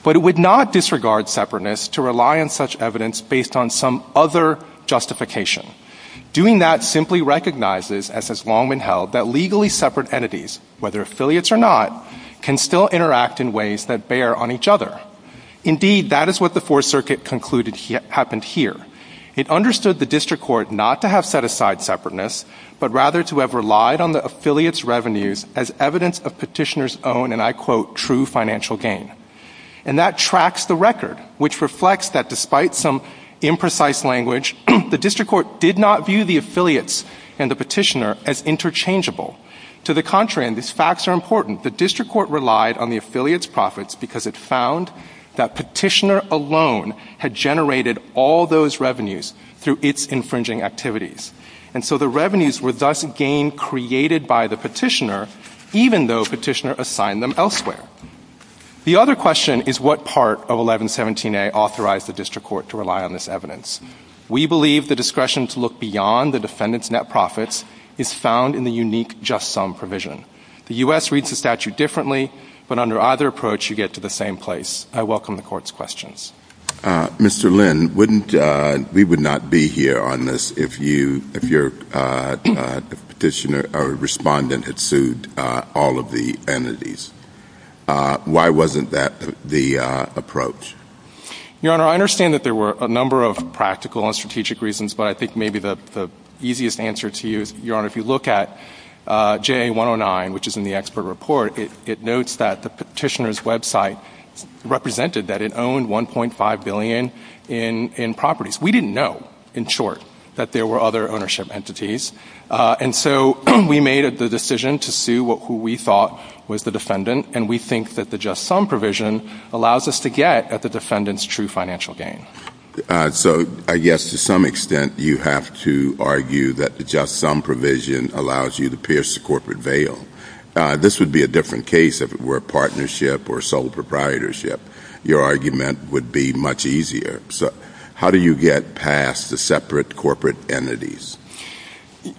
But it would not disregard separateness to rely on such evidence based on some other justification. Doing that simply recognizes, as has long been held, that legally separate entities, whether affiliates or not, can still interact in ways that bear on each other. Indeed, that is what the Fourth Circuit concluded happened here. It understood the district court not to have set aside separateness, but rather to have relied on the affiliate's revenues as evidence of petitioner's own, and I quote, true financial gain. And that tracks the record, which reflects that despite some imprecise language, the district court did not view the affiliates and the petitioner as interchangeable. To the contrary, and these facts are important, the district court relied on the affiliate's profits because it found that petitioner alone had generated all those revenues through its infringing activities. And so the revenues were thus again created by the petitioner, even though petitioner assigned them elsewhere. The other question is what part of 1117A authorized the district court to rely on this evidence. We believe the discretion to look beyond the defendant's net profits is found in the unique just sum provision. The U.S. reads the statute differently, but under either approach you get to the same place. I welcome the Court's questions. Mr. Lynn, we would not be here on this if your petitioner or respondent had sued all of the entities. Why wasn't that the approach? Your Honor, I understand that there were a number of practical and strategic reasons, but I think maybe the easiest answer to you is, Your Honor, if you look at JA 109, which is in the expert report, it notes that the petitioner's website represented that it owned $1.5 billion in properties. We didn't know, in short, that there were other ownership entities. And so we made the decision to sue who we thought was the defendant, and we think that the just sum provision allows us to get at the defendant's true financial gain. So I guess to some extent you have to argue that the just sum provision allows you to pierce the corporate veil. This would be a different case if it were a partnership or sole proprietorship. Your argument would be much easier. So how do you get past the separate corporate entities?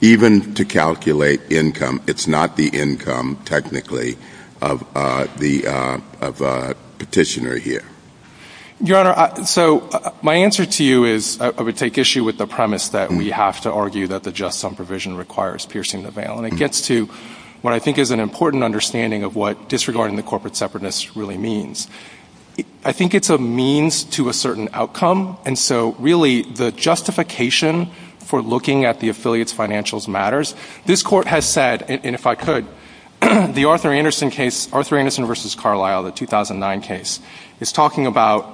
Even to calculate income, it's not the income, technically, of the petitioner here. Your Honor, so my answer to you is, I would take issue with the premise that we have to argue that the just sum provision requires piercing the veil, and it gets to what I think is an important understanding of what disregarding the corporate separateness really means. I think it's a means to a certain outcome, and so really the justification for looking at the affiliates' financials matters. This Court has said, and if I could, the Arthur Anderson case, Arthur Anderson v. Carlyle, the 2009 case, is talking about,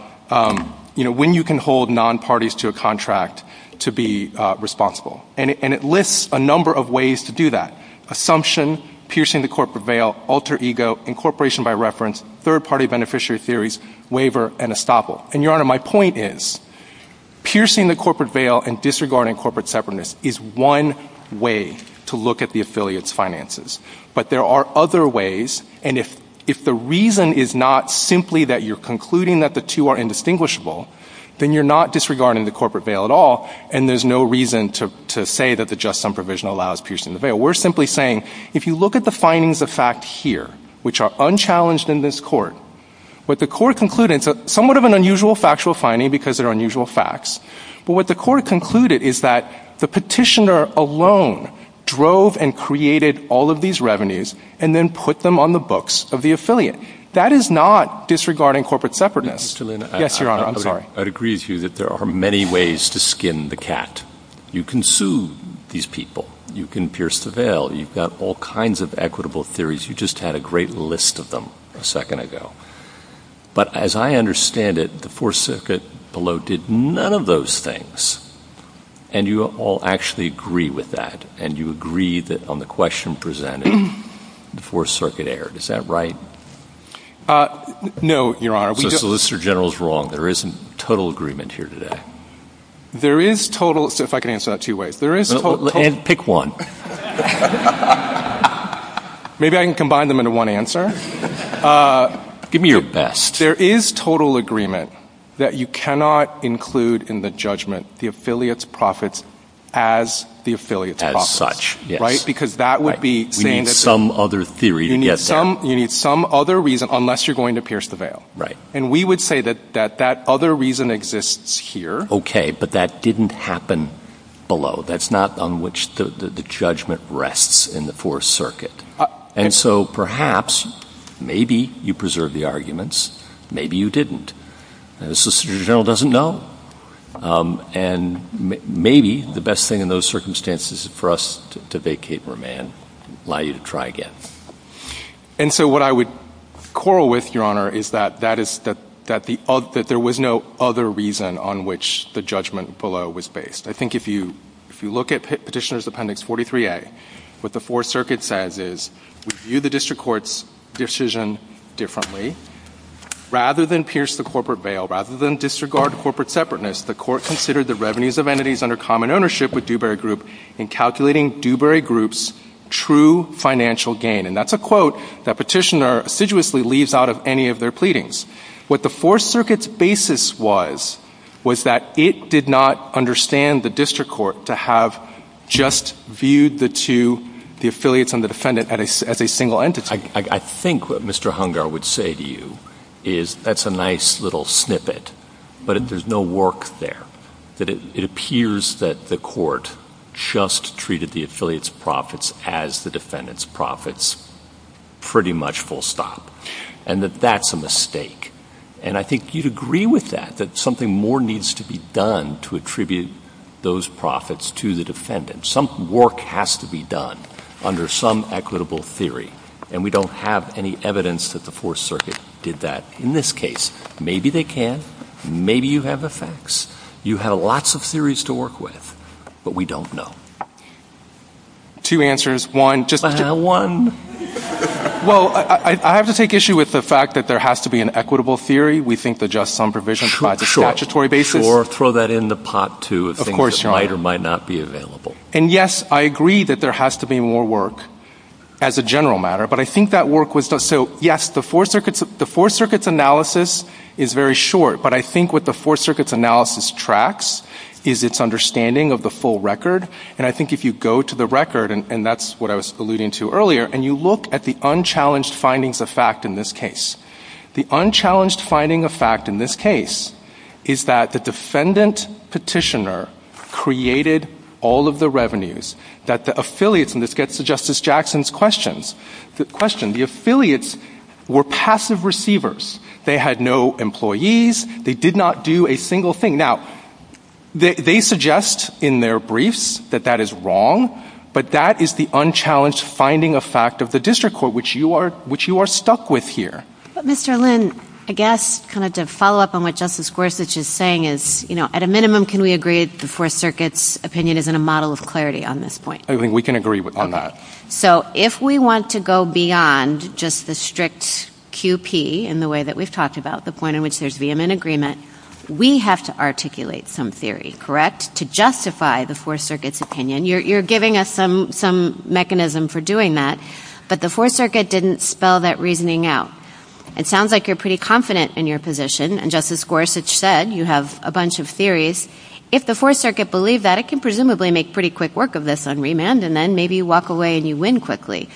you know, when you can hold nonparties to a contract to be responsible. And it lists a number of ways to do that. Assumption, piercing the corporate veil, alter ego, incorporation by reference, third-party beneficiary theories, waiver, and estoppel. And, Your Honor, my point is, piercing the corporate veil and disregarding corporate separateness is one way to look at the affiliates' finances. But there are other ways, and if the reason is not simply that you're concluding that the two are indistinguishable, then you're not disregarding the corporate veil at all, and there's no reason to say that the just sum provision allows piercing the veil. We're simply saying, if you look at the findings of fact here, which are unchallenged in this Court, what the Court concluded, it's somewhat of an unusual factual finding because they're unusual facts, but what the Court concluded is that the petitioner alone drove and created all of these revenues and then put them on the books of the affiliate. That is not disregarding corporate separateness. Yes, Your Honor, I'm sorry. I'd agree with you that there are many ways to skin the cat. You can sue these people. You can pierce the veil. You've got all kinds of equitable theories. You just had a great list of them a second ago. But as I understand it, the Fourth Circuit below did none of those things. And you all actually agree with that, and you agree that on the question presented, the Fourth Circuit erred. Is that right? No, Your Honor. So Solicitor General's wrong. There isn't total agreement here today. There is total... If I could answer that two ways. And pick one. Maybe I can combine them into one answer. Give me your best. There is total agreement that you cannot include in the judgment the affiliate's profits as the affiliate's profits. As such, yes. Right? Because that would be saying... We need some other theory to get that. You need some other reason, unless you're going to pierce the veil. Right. And we would say that that other reason exists here. Okay, but that didn't happen below. That's not on which the judgment rests in the Fourth Circuit. And so perhaps maybe you preserve the arguments. Maybe you didn't. The Solicitor General doesn't know. And maybe the best thing in those circumstances is for us to vacate for a man and allow you to try again. And so what I would quarrel with, Your Honor, is that there was no other reason on which the judgment below was based. I think if you look at Petitioner's Appendix 43A, what the Fourth Circuit says is, We view the district court's decision differently. Rather than pierce the corporate veil, rather than disregard corporate separateness, the court considered the revenues of entities under common ownership with Dewberry Group in calculating Dewberry Group's true financial gain. And that's a quote that Petitioner assiduously leaves out of any of their pleadings. What the Fourth Circuit's basis was was that it did not understand the district court to have just viewed the two, the affiliates and the defendant, as a single entity. I think what Mr. Hungar would say to you is, that's a nice little snippet, but there's no work there. It appears that the court just treated the affiliates' profits as the defendants' profits, pretty much full stop. And that that's a mistake. And I think you'd agree with that, that something more needs to be done to attribute those profits to the defendant. Some work has to be done under some equitable theory. And we don't have any evidence that the Fourth Circuit did that. In this case, maybe they can. Maybe you have the facts. You have lots of theories to work with. But we don't know. Two answers. One, just... Well, one... Well, I have to take issue with the fact that there has to be an equitable theory. We think that just some provisions provide the statutory basis. Sure, throw that in the pot, too. And yes, I agree that there has to be more work as a general matter. But I think that work was... So, yes, the Fourth Circuit's analysis is very short. But I think what the Fourth Circuit's analysis tracks is its understanding of the full record. And I think if you go to the record, and that's what I was alluding to earlier, and you look at the unchallenged findings of fact in this case, the unchallenged finding of fact in this case is that the defendant petitioner created all of the revenues that the affiliates... And this gets to Justice Jackson's question. The affiliates were passive receivers. They had no employees. They did not do a single thing. Now, they suggest in their briefs that that is wrong, but that is the unchallenged finding of fact of the district court, which you are stuck with here. But, Mr. Lin, I guess, kind of to follow up on what Justice Gorsuch is saying is, you know, at a minimum, can we agree that the Fourth Circuit's opinion isn't a model of clarity on this point? I think we can agree on that. So if we want to go beyond just the strict QP in the way that we've talked about, the point in which there's vehement agreement, we have to articulate some theory, correct, to justify the Fourth Circuit's opinion. You're giving us some mechanism for doing that, but the Fourth Circuit didn't spell that reasoning out. It sounds like you're pretty confident in your position, and Justice Gorsuch said you have a bunch of theories. If the Fourth Circuit believed that, it can presumably make pretty quick work of this on remand, and then maybe you walk away and you win quickly.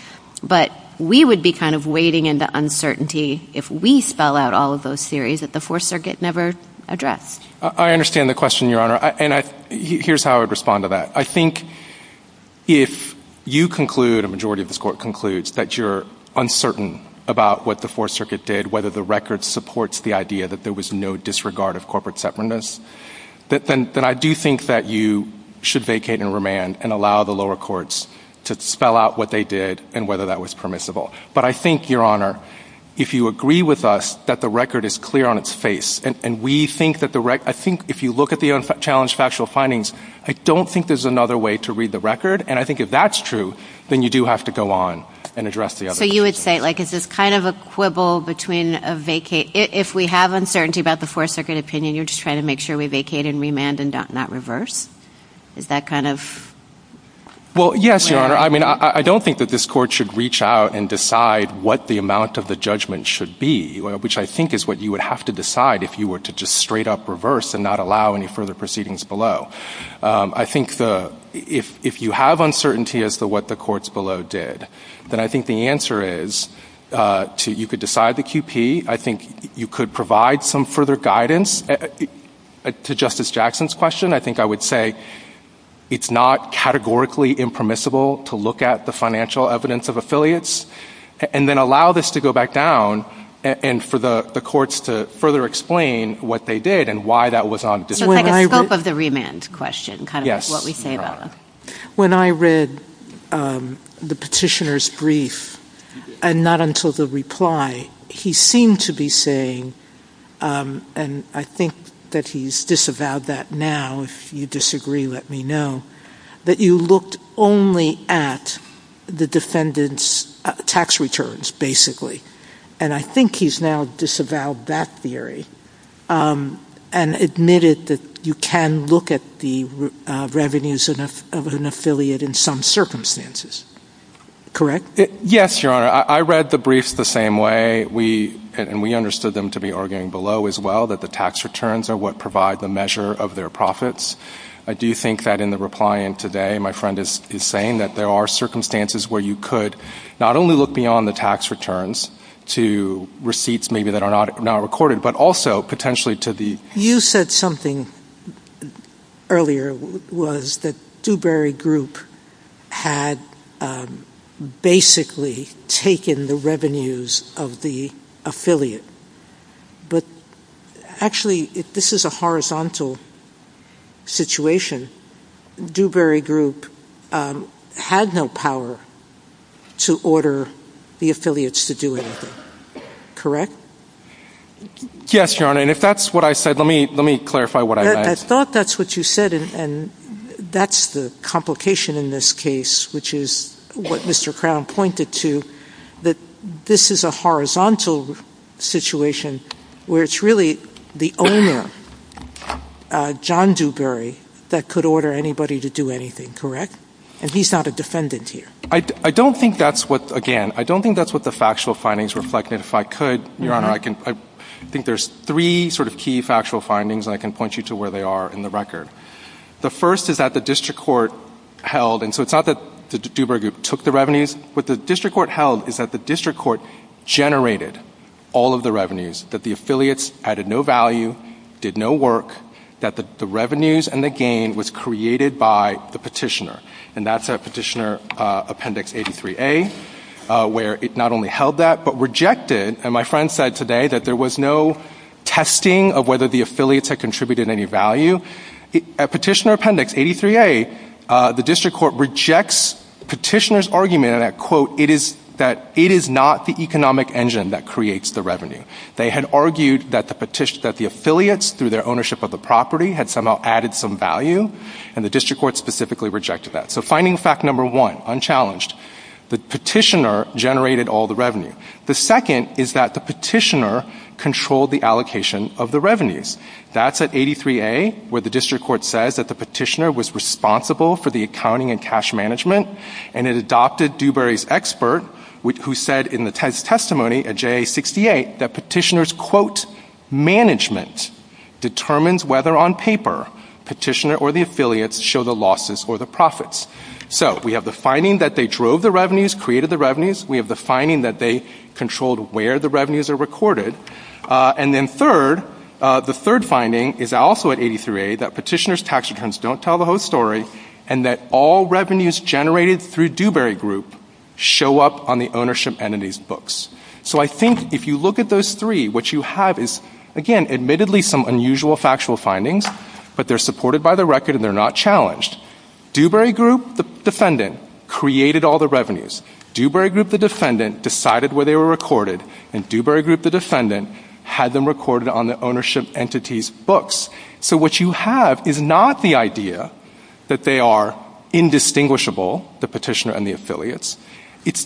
But we would be kind of wading into uncertainty if we spell out all of those theories that the Fourth Circuit never addressed. I understand the question, Your Honor, and here's how I'd respond to that. I think if you conclude, a majority of this Court concludes, that you're uncertain about what the Fourth Circuit did, whether the record supports the idea that there was no disregard of corporate separateness, then I do think that you should vacate and remand and allow the lower courts to spell out what they did and whether that was permissible. But I think, Your Honor, if you agree with us that the record is clear on its face, and we think that the record... I think if you look at the unchallenged factual findings, I don't think there's another way to read the record, and I think if that's true, then you do have to go on and address the other questions. So you would say, like, it's just kind of a quibble between a vacate... If we have uncertainty about the Fourth Circuit opinion, you're just trying to make sure we vacate and remand and not reverse? Is that kind of... Well, yes, Your Honor. I mean, I don't think that this Court should reach out and decide what the amount of the judgment should be, which I think is what you would have to decide if you were to just straight-up reverse and not allow any further proceedings below. I think if you have uncertainty as to what the courts below did, then I think the answer is you could decide the QP. I think you could provide some further guidance to Justice Jackson's question. I think I would say it's not categorically impermissible to look at the financial evidence of affiliates and then allow this to go back down and for the courts to further explain what they did and why that was not... It's like a scope of the remand question, kind of what we say about that. When I read the petitioner's brief, and not until the reply, he seemed to be saying, and I think that he's disavowed that now. If you disagree, let me know, that you looked only at the defendant's tax returns, basically. And I think he's now disavowed that theory and admitted that you can look at the revenues of an affiliate in some circumstances. Correct? Yes, Your Honor. I read the brief the same way, and we understood them to be arguing below as well, that the tax returns are what provide the measure of their profits. I do think that in the reply in today, my friend is saying that there are circumstances where you could not only look beyond the tax returns to receipts maybe that are not recorded, but also potentially to the... You said something earlier was that Dewberry Group had basically taken the revenues of the affiliate. But actually, if this is a horizontal situation, Dewberry Group had no power to order the affiliates to do anything. Correct? Yes, Your Honor. And if that's what I said, let me clarify what I said. I thought that's what you said, and that's the complication in this case, which is what Mr. Crown pointed to, that this is a horizontal situation where it's really the owner, John Dewberry, that could order anybody to do anything. Correct? And he's not a defendant here. I don't think that's what, again, I don't think that's what the factual findings reflect. And if I could, Your Honor, I think there's three sort of key factual findings, and I can point you to where they are in the record. The first is that the district court held, and so it's not that Dewberry Group took the revenues, but the district court held is that the district court generated all of the revenues, that the affiliates added no value, did no work, that the revenues and the gain was created by the petitioner, and that's at Petitioner Appendix 83A, where it not only held that but rejected, and my friend said today, that there was no testing of whether the affiliates had contributed any value. At Petitioner Appendix 83A, the district court rejects the petitioner's argument that, quote, it is not the economic engine that creates the revenue. They had argued that the affiliates, through their ownership of the property, had somehow added some value, and the district court specifically rejected that. So finding fact number one, unchallenged. The petitioner generated all the revenue. The second is that the petitioner controlled the allocation of the revenues. That's at 83A, where the district court says that the petitioner was responsible for the accounting and cash management, and it adopted Dewberry's expert, who said in the testimony at JA-68 that petitioner's, quote, management determines whether, on paper, petitioner or the affiliates show the losses or the profits. So we have the finding that they drove the revenues, created the revenues. We have the finding that they controlled where the revenues are recorded. And then third, the third finding is also at 83A, that petitioner's tax returns don't tell the whole story, and that all revenues generated through Dewberry Group show up on the ownership entities' books. So I think if you look at those three, what you have is, again, admittedly some unusual factual findings, but they're supported by the record, and they're not challenged. Dewberry Group, the defendant, created all the revenues. Dewberry Group, the defendant, decided where they were recorded, and Dewberry Group, the defendant, had them recorded on the ownership entities' books. So what you have is not the idea that they are indistinguishable, the petitioner and the affiliates.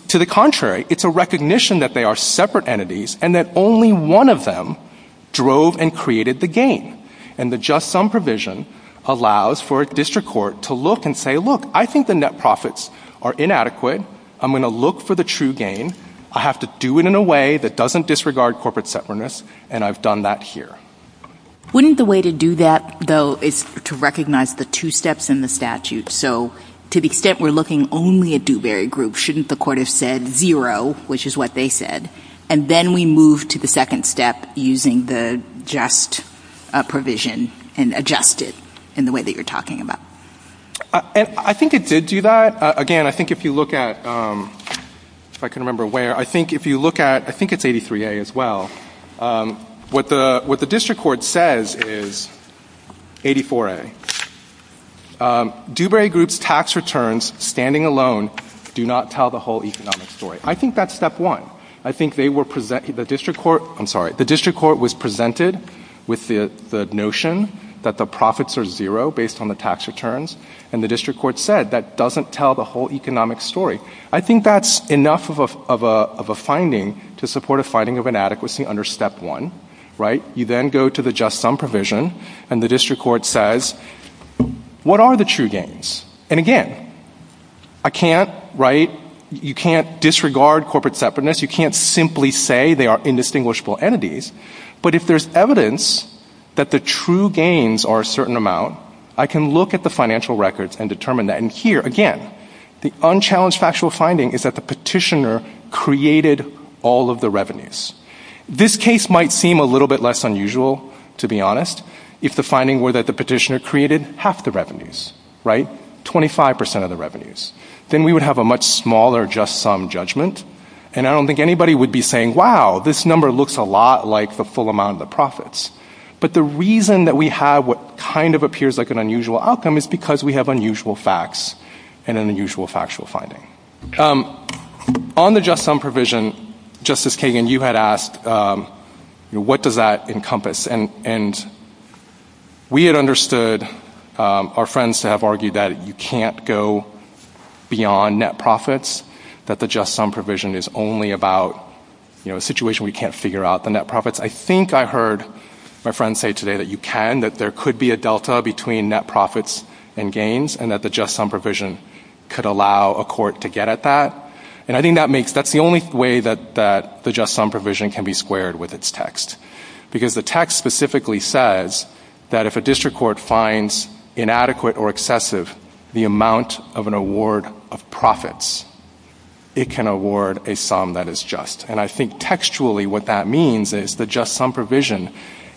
To the contrary, it's a recognition that they are separate entities and that only one of them drove and created the gain. And the just sum provision allows for a district court to look and say, look, I think the net profits are inadequate. I'm going to look for the true gain. I have to do it in a way that doesn't disregard corporate separateness, and I've done that here. Wouldn't the way to do that, though, is to recognize the two steps in the statute? So to the extent we're looking only at Dewberry Group, shouldn't the court have said zero, which is what they said, and then we move to the second step using the just provision and adjust it in the way that you're talking about? I think it did do that. Again, I think if you look at... If I can remember where. I think if you look at... I think it's 83A as well. What the district court says is 84A. Dewberry Group's tax returns standing alone do not tell the whole economic story. I think that's step one. I think they were presenting... I'm sorry. The district court was presented with the notion that the profits are zero based on the tax returns, and the district court said that doesn't tell the whole economic story. I think that's enough of a finding to support a finding of inadequacy under step one. You then go to the just sum provision, and the district court says, what are the true gains? And again, I can't... You can't disregard corporate separateness. You can't simply say they are indistinguishable entities, but if there's evidence that the true gains are a certain amount, I can look at the financial records and determine that. And here, again, the unchallenged factual finding is that the petitioner created all of the revenues. This case might seem a little bit less unusual, to be honest, if the finding were that the petitioner created half the revenues, right? 25% of the revenues. Then we would have a much smaller just sum judgment, and I don't think anybody would be saying, wow, this number looks a lot like the full amount of the profits. But the reason that we have what kind of appears like an unusual outcome is because we have unusual facts and an unusual factual finding. On the just sum provision, Justice Kagan, you had asked, what does that encompass? And we had understood, our friends have argued that you can't go beyond net profits, that the just sum provision is only about a situation we can't figure out, the net profits. I think I heard my friend say today that you can, that there could be a delta between net profits and gains, and that the just sum provision could allow a court to get at that. And I think that's the only way that the just sum provision can be squared with its text. Because the text specifically says that if a district court finds inadequate or excessive the amount of an award of profits, it can award a sum that is just. And I think textually what that means is the just sum provision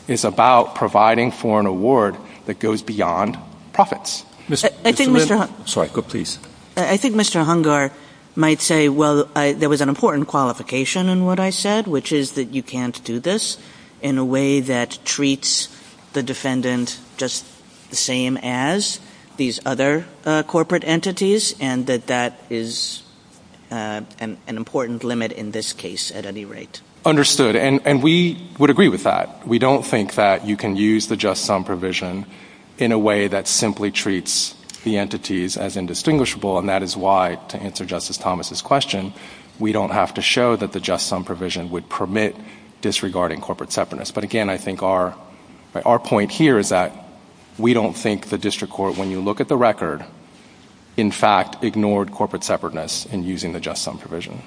is about providing for an award that goes beyond profits. I think Mr. Hungar might say, well, there was an important qualification in what I said, which is that you can't do this in a way that treats the defendant just the same as these other corporate entities, and that that is an important limit in this case at any rate. Understood. And we would agree with that. We don't think that you can use the just sum provision in a way that simply treats the entities as indistinguishable, and that is why, to answer Justice Thomas's question, we don't have to show that the just sum provision would permit disregarding corporate separateness. But again, I think our point here is that we don't think the district court, when you look at the record, in fact ignored corporate separateness in using the just sum provision.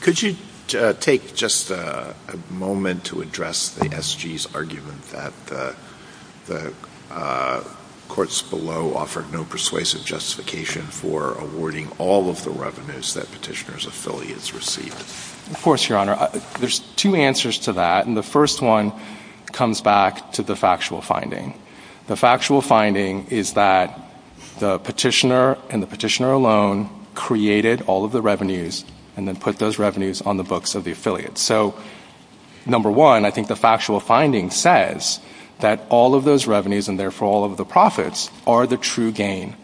Could you take just a moment to address the SG's argument that the courts below offered no persuasive justification for awarding all of the revenues that petitioners' affiliates received? Of course, Your Honor. There's two answers to that, and the first one comes back to the factual finding. The factual finding is that the petitioner and the petitioner alone created all of the revenues and then put those revenues on the books of the affiliates. So, number one, I think the factual finding says that all of those revenues, and therefore all of the profits, are the true gain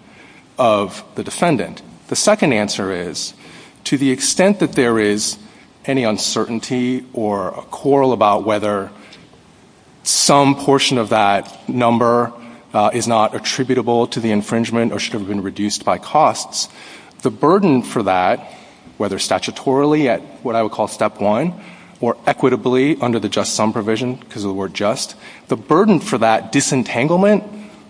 of the defendant. The second answer is, to the extent that there is any uncertainty or a quarrel about whether some portion of that number is not attributable to the infringement or should have been reduced by costs, the burden for that, whether statutorily at what I would call step one or equitably under the just sum provision because of the word just, the burden for that disentanglement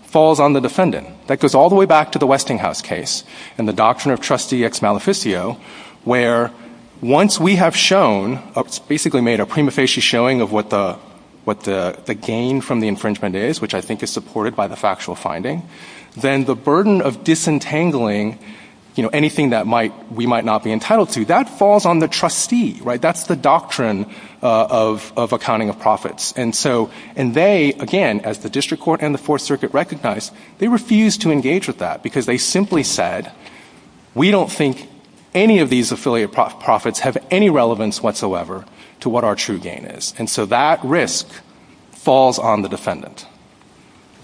falls on the defendant. That goes all the way back to the Westinghouse case and the doctrine of trustee ex maleficio, where once we have shown, basically made a prima facie showing of what the gain from the infringement is, which I think is supported by the factual finding, then the burden of disentangling anything that we might not be entitled to, that falls on the trustee. That's the doctrine of accounting of profits. And they, again, as the district court and the Fourth Circuit recognized, they refused to engage with that because they simply said, we don't think any of these affiliate profits have any relevance whatsoever to what our true gain is. And so that risk falls on the defendant.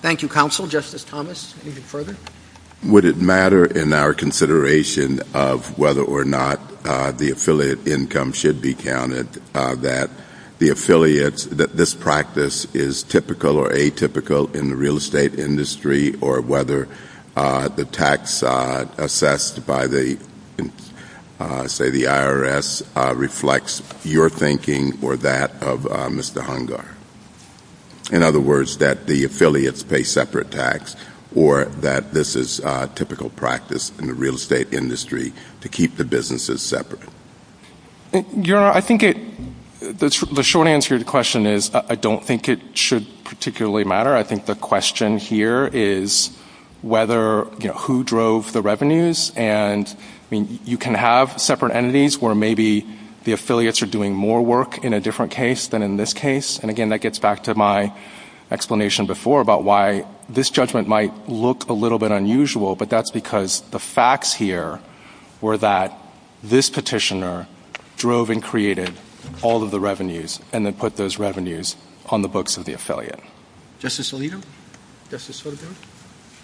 Thank you, counsel. Justice Thomas, any further? Would it matter in our consideration of whether or not the affiliate income should be counted that the affiliates, that this practice is typical or atypical in the real estate industry or whether the tax assessed by, say, the IRS reflects your thinking or that of Mr. Hungar? In other words, that the affiliates pay separate tax or that this is typical practice in the real estate industry to keep the businesses separate? Your Honor, I think the short answer to your question is I don't think it should particularly matter. I think the question here is whether, you know, who drove the revenues. And, I mean, you can have separate entities where maybe the affiliates are doing more work in a different case than in this case. And, again, that gets back to my explanation before about why this judgment might look a little bit unusual, but that's because the facts here were that this petitioner drove and created all of the revenues and then put those revenues on the books of the affiliate. Justice Alito? Justice Sotomayor?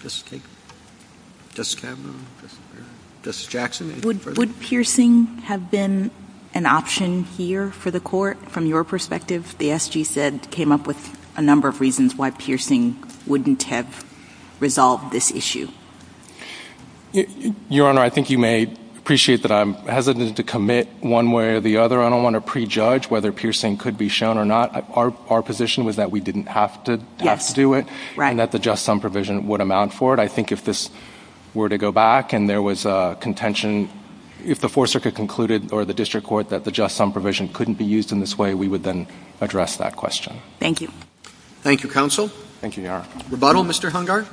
Justice Kavanaugh? Justice Jackson? Would piercing have been an option here for the court from your perspective? The SG said it came up with a number of reasons why piercing wouldn't have resolved this issue. Your Honor, I think you may appreciate that I'm hesitant to commit one way or the other. I don't want to prejudge whether piercing could be shown or not. Our position was that we didn't have to do it and that the just sum provision would amount for it. I think if this were to go back and there was a contention, if the Fourth Circuit concluded or the district court that the just sum provision couldn't be used in this way, we would then address that question. Thank you. Thank you, counsel. Thank you, Your Honor. Rebuttal, Mr. Hungard?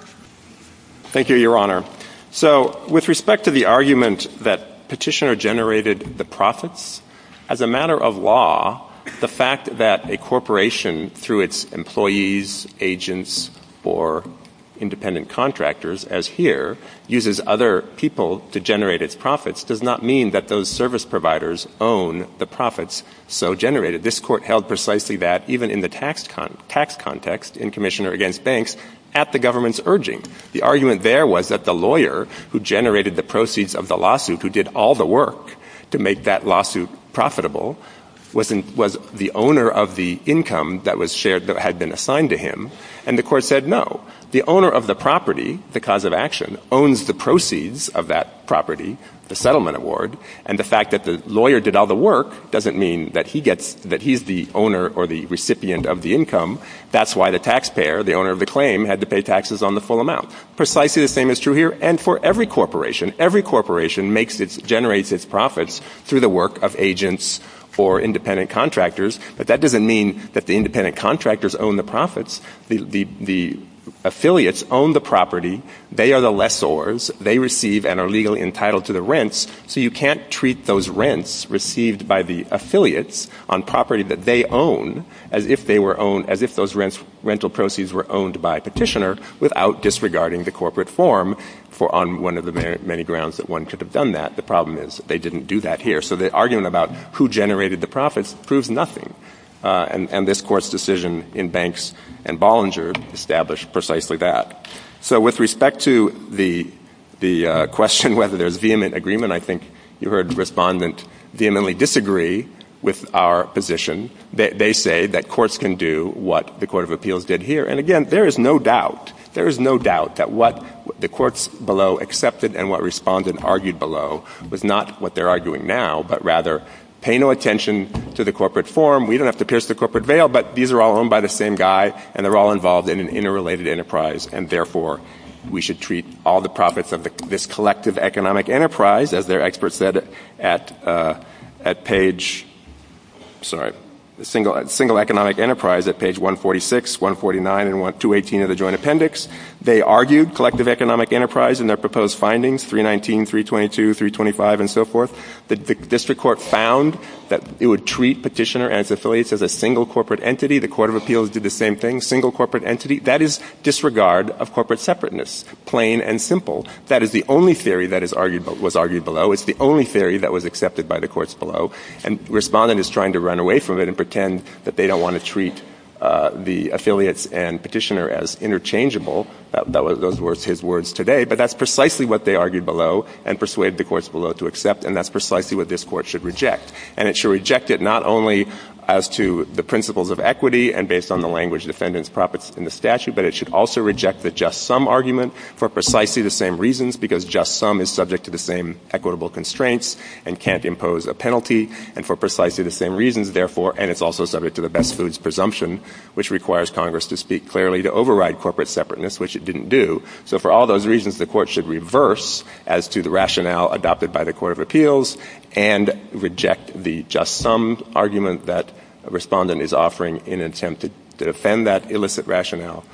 Thank you, Your Honor. So, with respect to the argument that petitioner generated the profits, as a matter of law, the fact that a corporation, through its employees, agents, or independent contractors, as here, uses other people to generate its profits does not mean that those service providers own the profits so generated. This court held precisely that, even in the tax context, in permission or against banks, at the government's urging. The argument there was that the lawyer who generated the proceeds of the lawsuit, who did all the work to make that lawsuit profitable, was the owner of the income that was shared, that had been assigned to him, and the court said, no. The owner of the property, the cause of action, owns the proceeds of that property, the settlement award, and the fact that the lawyer did all the work doesn't mean that he's the owner or the recipient of the income. That's why the taxpayer, the owner of the claim, had to pay taxes on the full amount. Precisely the same is true here, and for every corporation. Every corporation generates its profits through the work of agents or independent contractors, but that doesn't mean that the independent contractors own the profits. The affiliates own the property. They are the lessors. They receive and are legally entitled to the rents, so you can't treat those rents received by the affiliates on property that they own as if those rental proceeds were owned by a petitioner without disregarding the corporate form on one of the many grounds that one could have done that. I think the problem is they didn't do that here, so the argument about who generated the profits proves nothing, and this Court's decision in Banks and Bollinger established precisely that. So with respect to the question whether there's vehement agreement, I think you heard Respondent vehemently disagree with our position. They say that courts can do what the Court of Appeals did here, and again, there is no doubt. There is no doubt that what the courts below accepted and what Respondent argued below was not what they're arguing now, but rather, pay no attention to the corporate form. We don't have to pierce the corporate veil, but these are all owned by the same guy, and they're all involved in an interrelated enterprise, and therefore, we should treat all the profits of this collective economic enterprise, as their experts said at page... sorry, single economic enterprise at page 146, 149, and 218 of the Joint Appendix. They argued collective economic enterprise in their proposed findings, 319, 322, 325, and so forth. The district court found that it would treat petitioner and its affiliates as a single corporate entity. The Court of Appeals did the same thing, single corporate entity. That is disregard of corporate separateness, plain and simple. That is the only theory that was argued below. It's the only theory that was accepted by the courts below, and Respondent is trying to run away from it and pretend that they don't want to treat the affiliates and petitioner as interchangeable. Those were his words today, but that's precisely what they argued below and persuaded the courts below to accept, and that's precisely what this court should reject. And it should reject it not only as to the principles of equity and based on the language defendants profits in the statute, but it should also reject the just sum argument for precisely the same reasons, because just sum is subject to the same equitable constraints and can't impose a penalty, and for precisely the same reasons, therefore, and it's also subject to the best foods presumption, which requires Congress to speak clearly to override corporate separateness, which it didn't do. So for all those reasons, the court should reverse as to the rationale adopted by the Court of Appeals and reject the just sum argument that Respondent is offering in an attempt to defend that illicit rationale.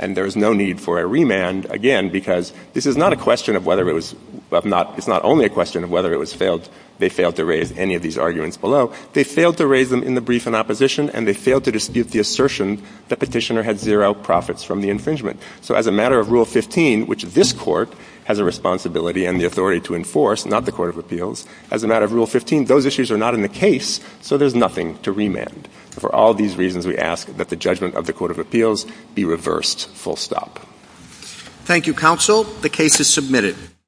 And there is no need for a remand, again, because this is not a question of whether it was, it's not only a question of whether it was failed, they failed to raise any of these arguments below. They failed to raise them in the brief in opposition and they failed to dispute the assertion the petitioner had zero profits from the infringement. So as a matter of Rule 15, which this court has a responsibility and the authority to enforce, not the Court of Appeals, as a matter of Rule 15, those issues are not in the case, so there's nothing to remand. For all these reasons, we ask that the judgment of the Court of Appeals be reversed full stop. Thank you, Counsel. The case is submitted.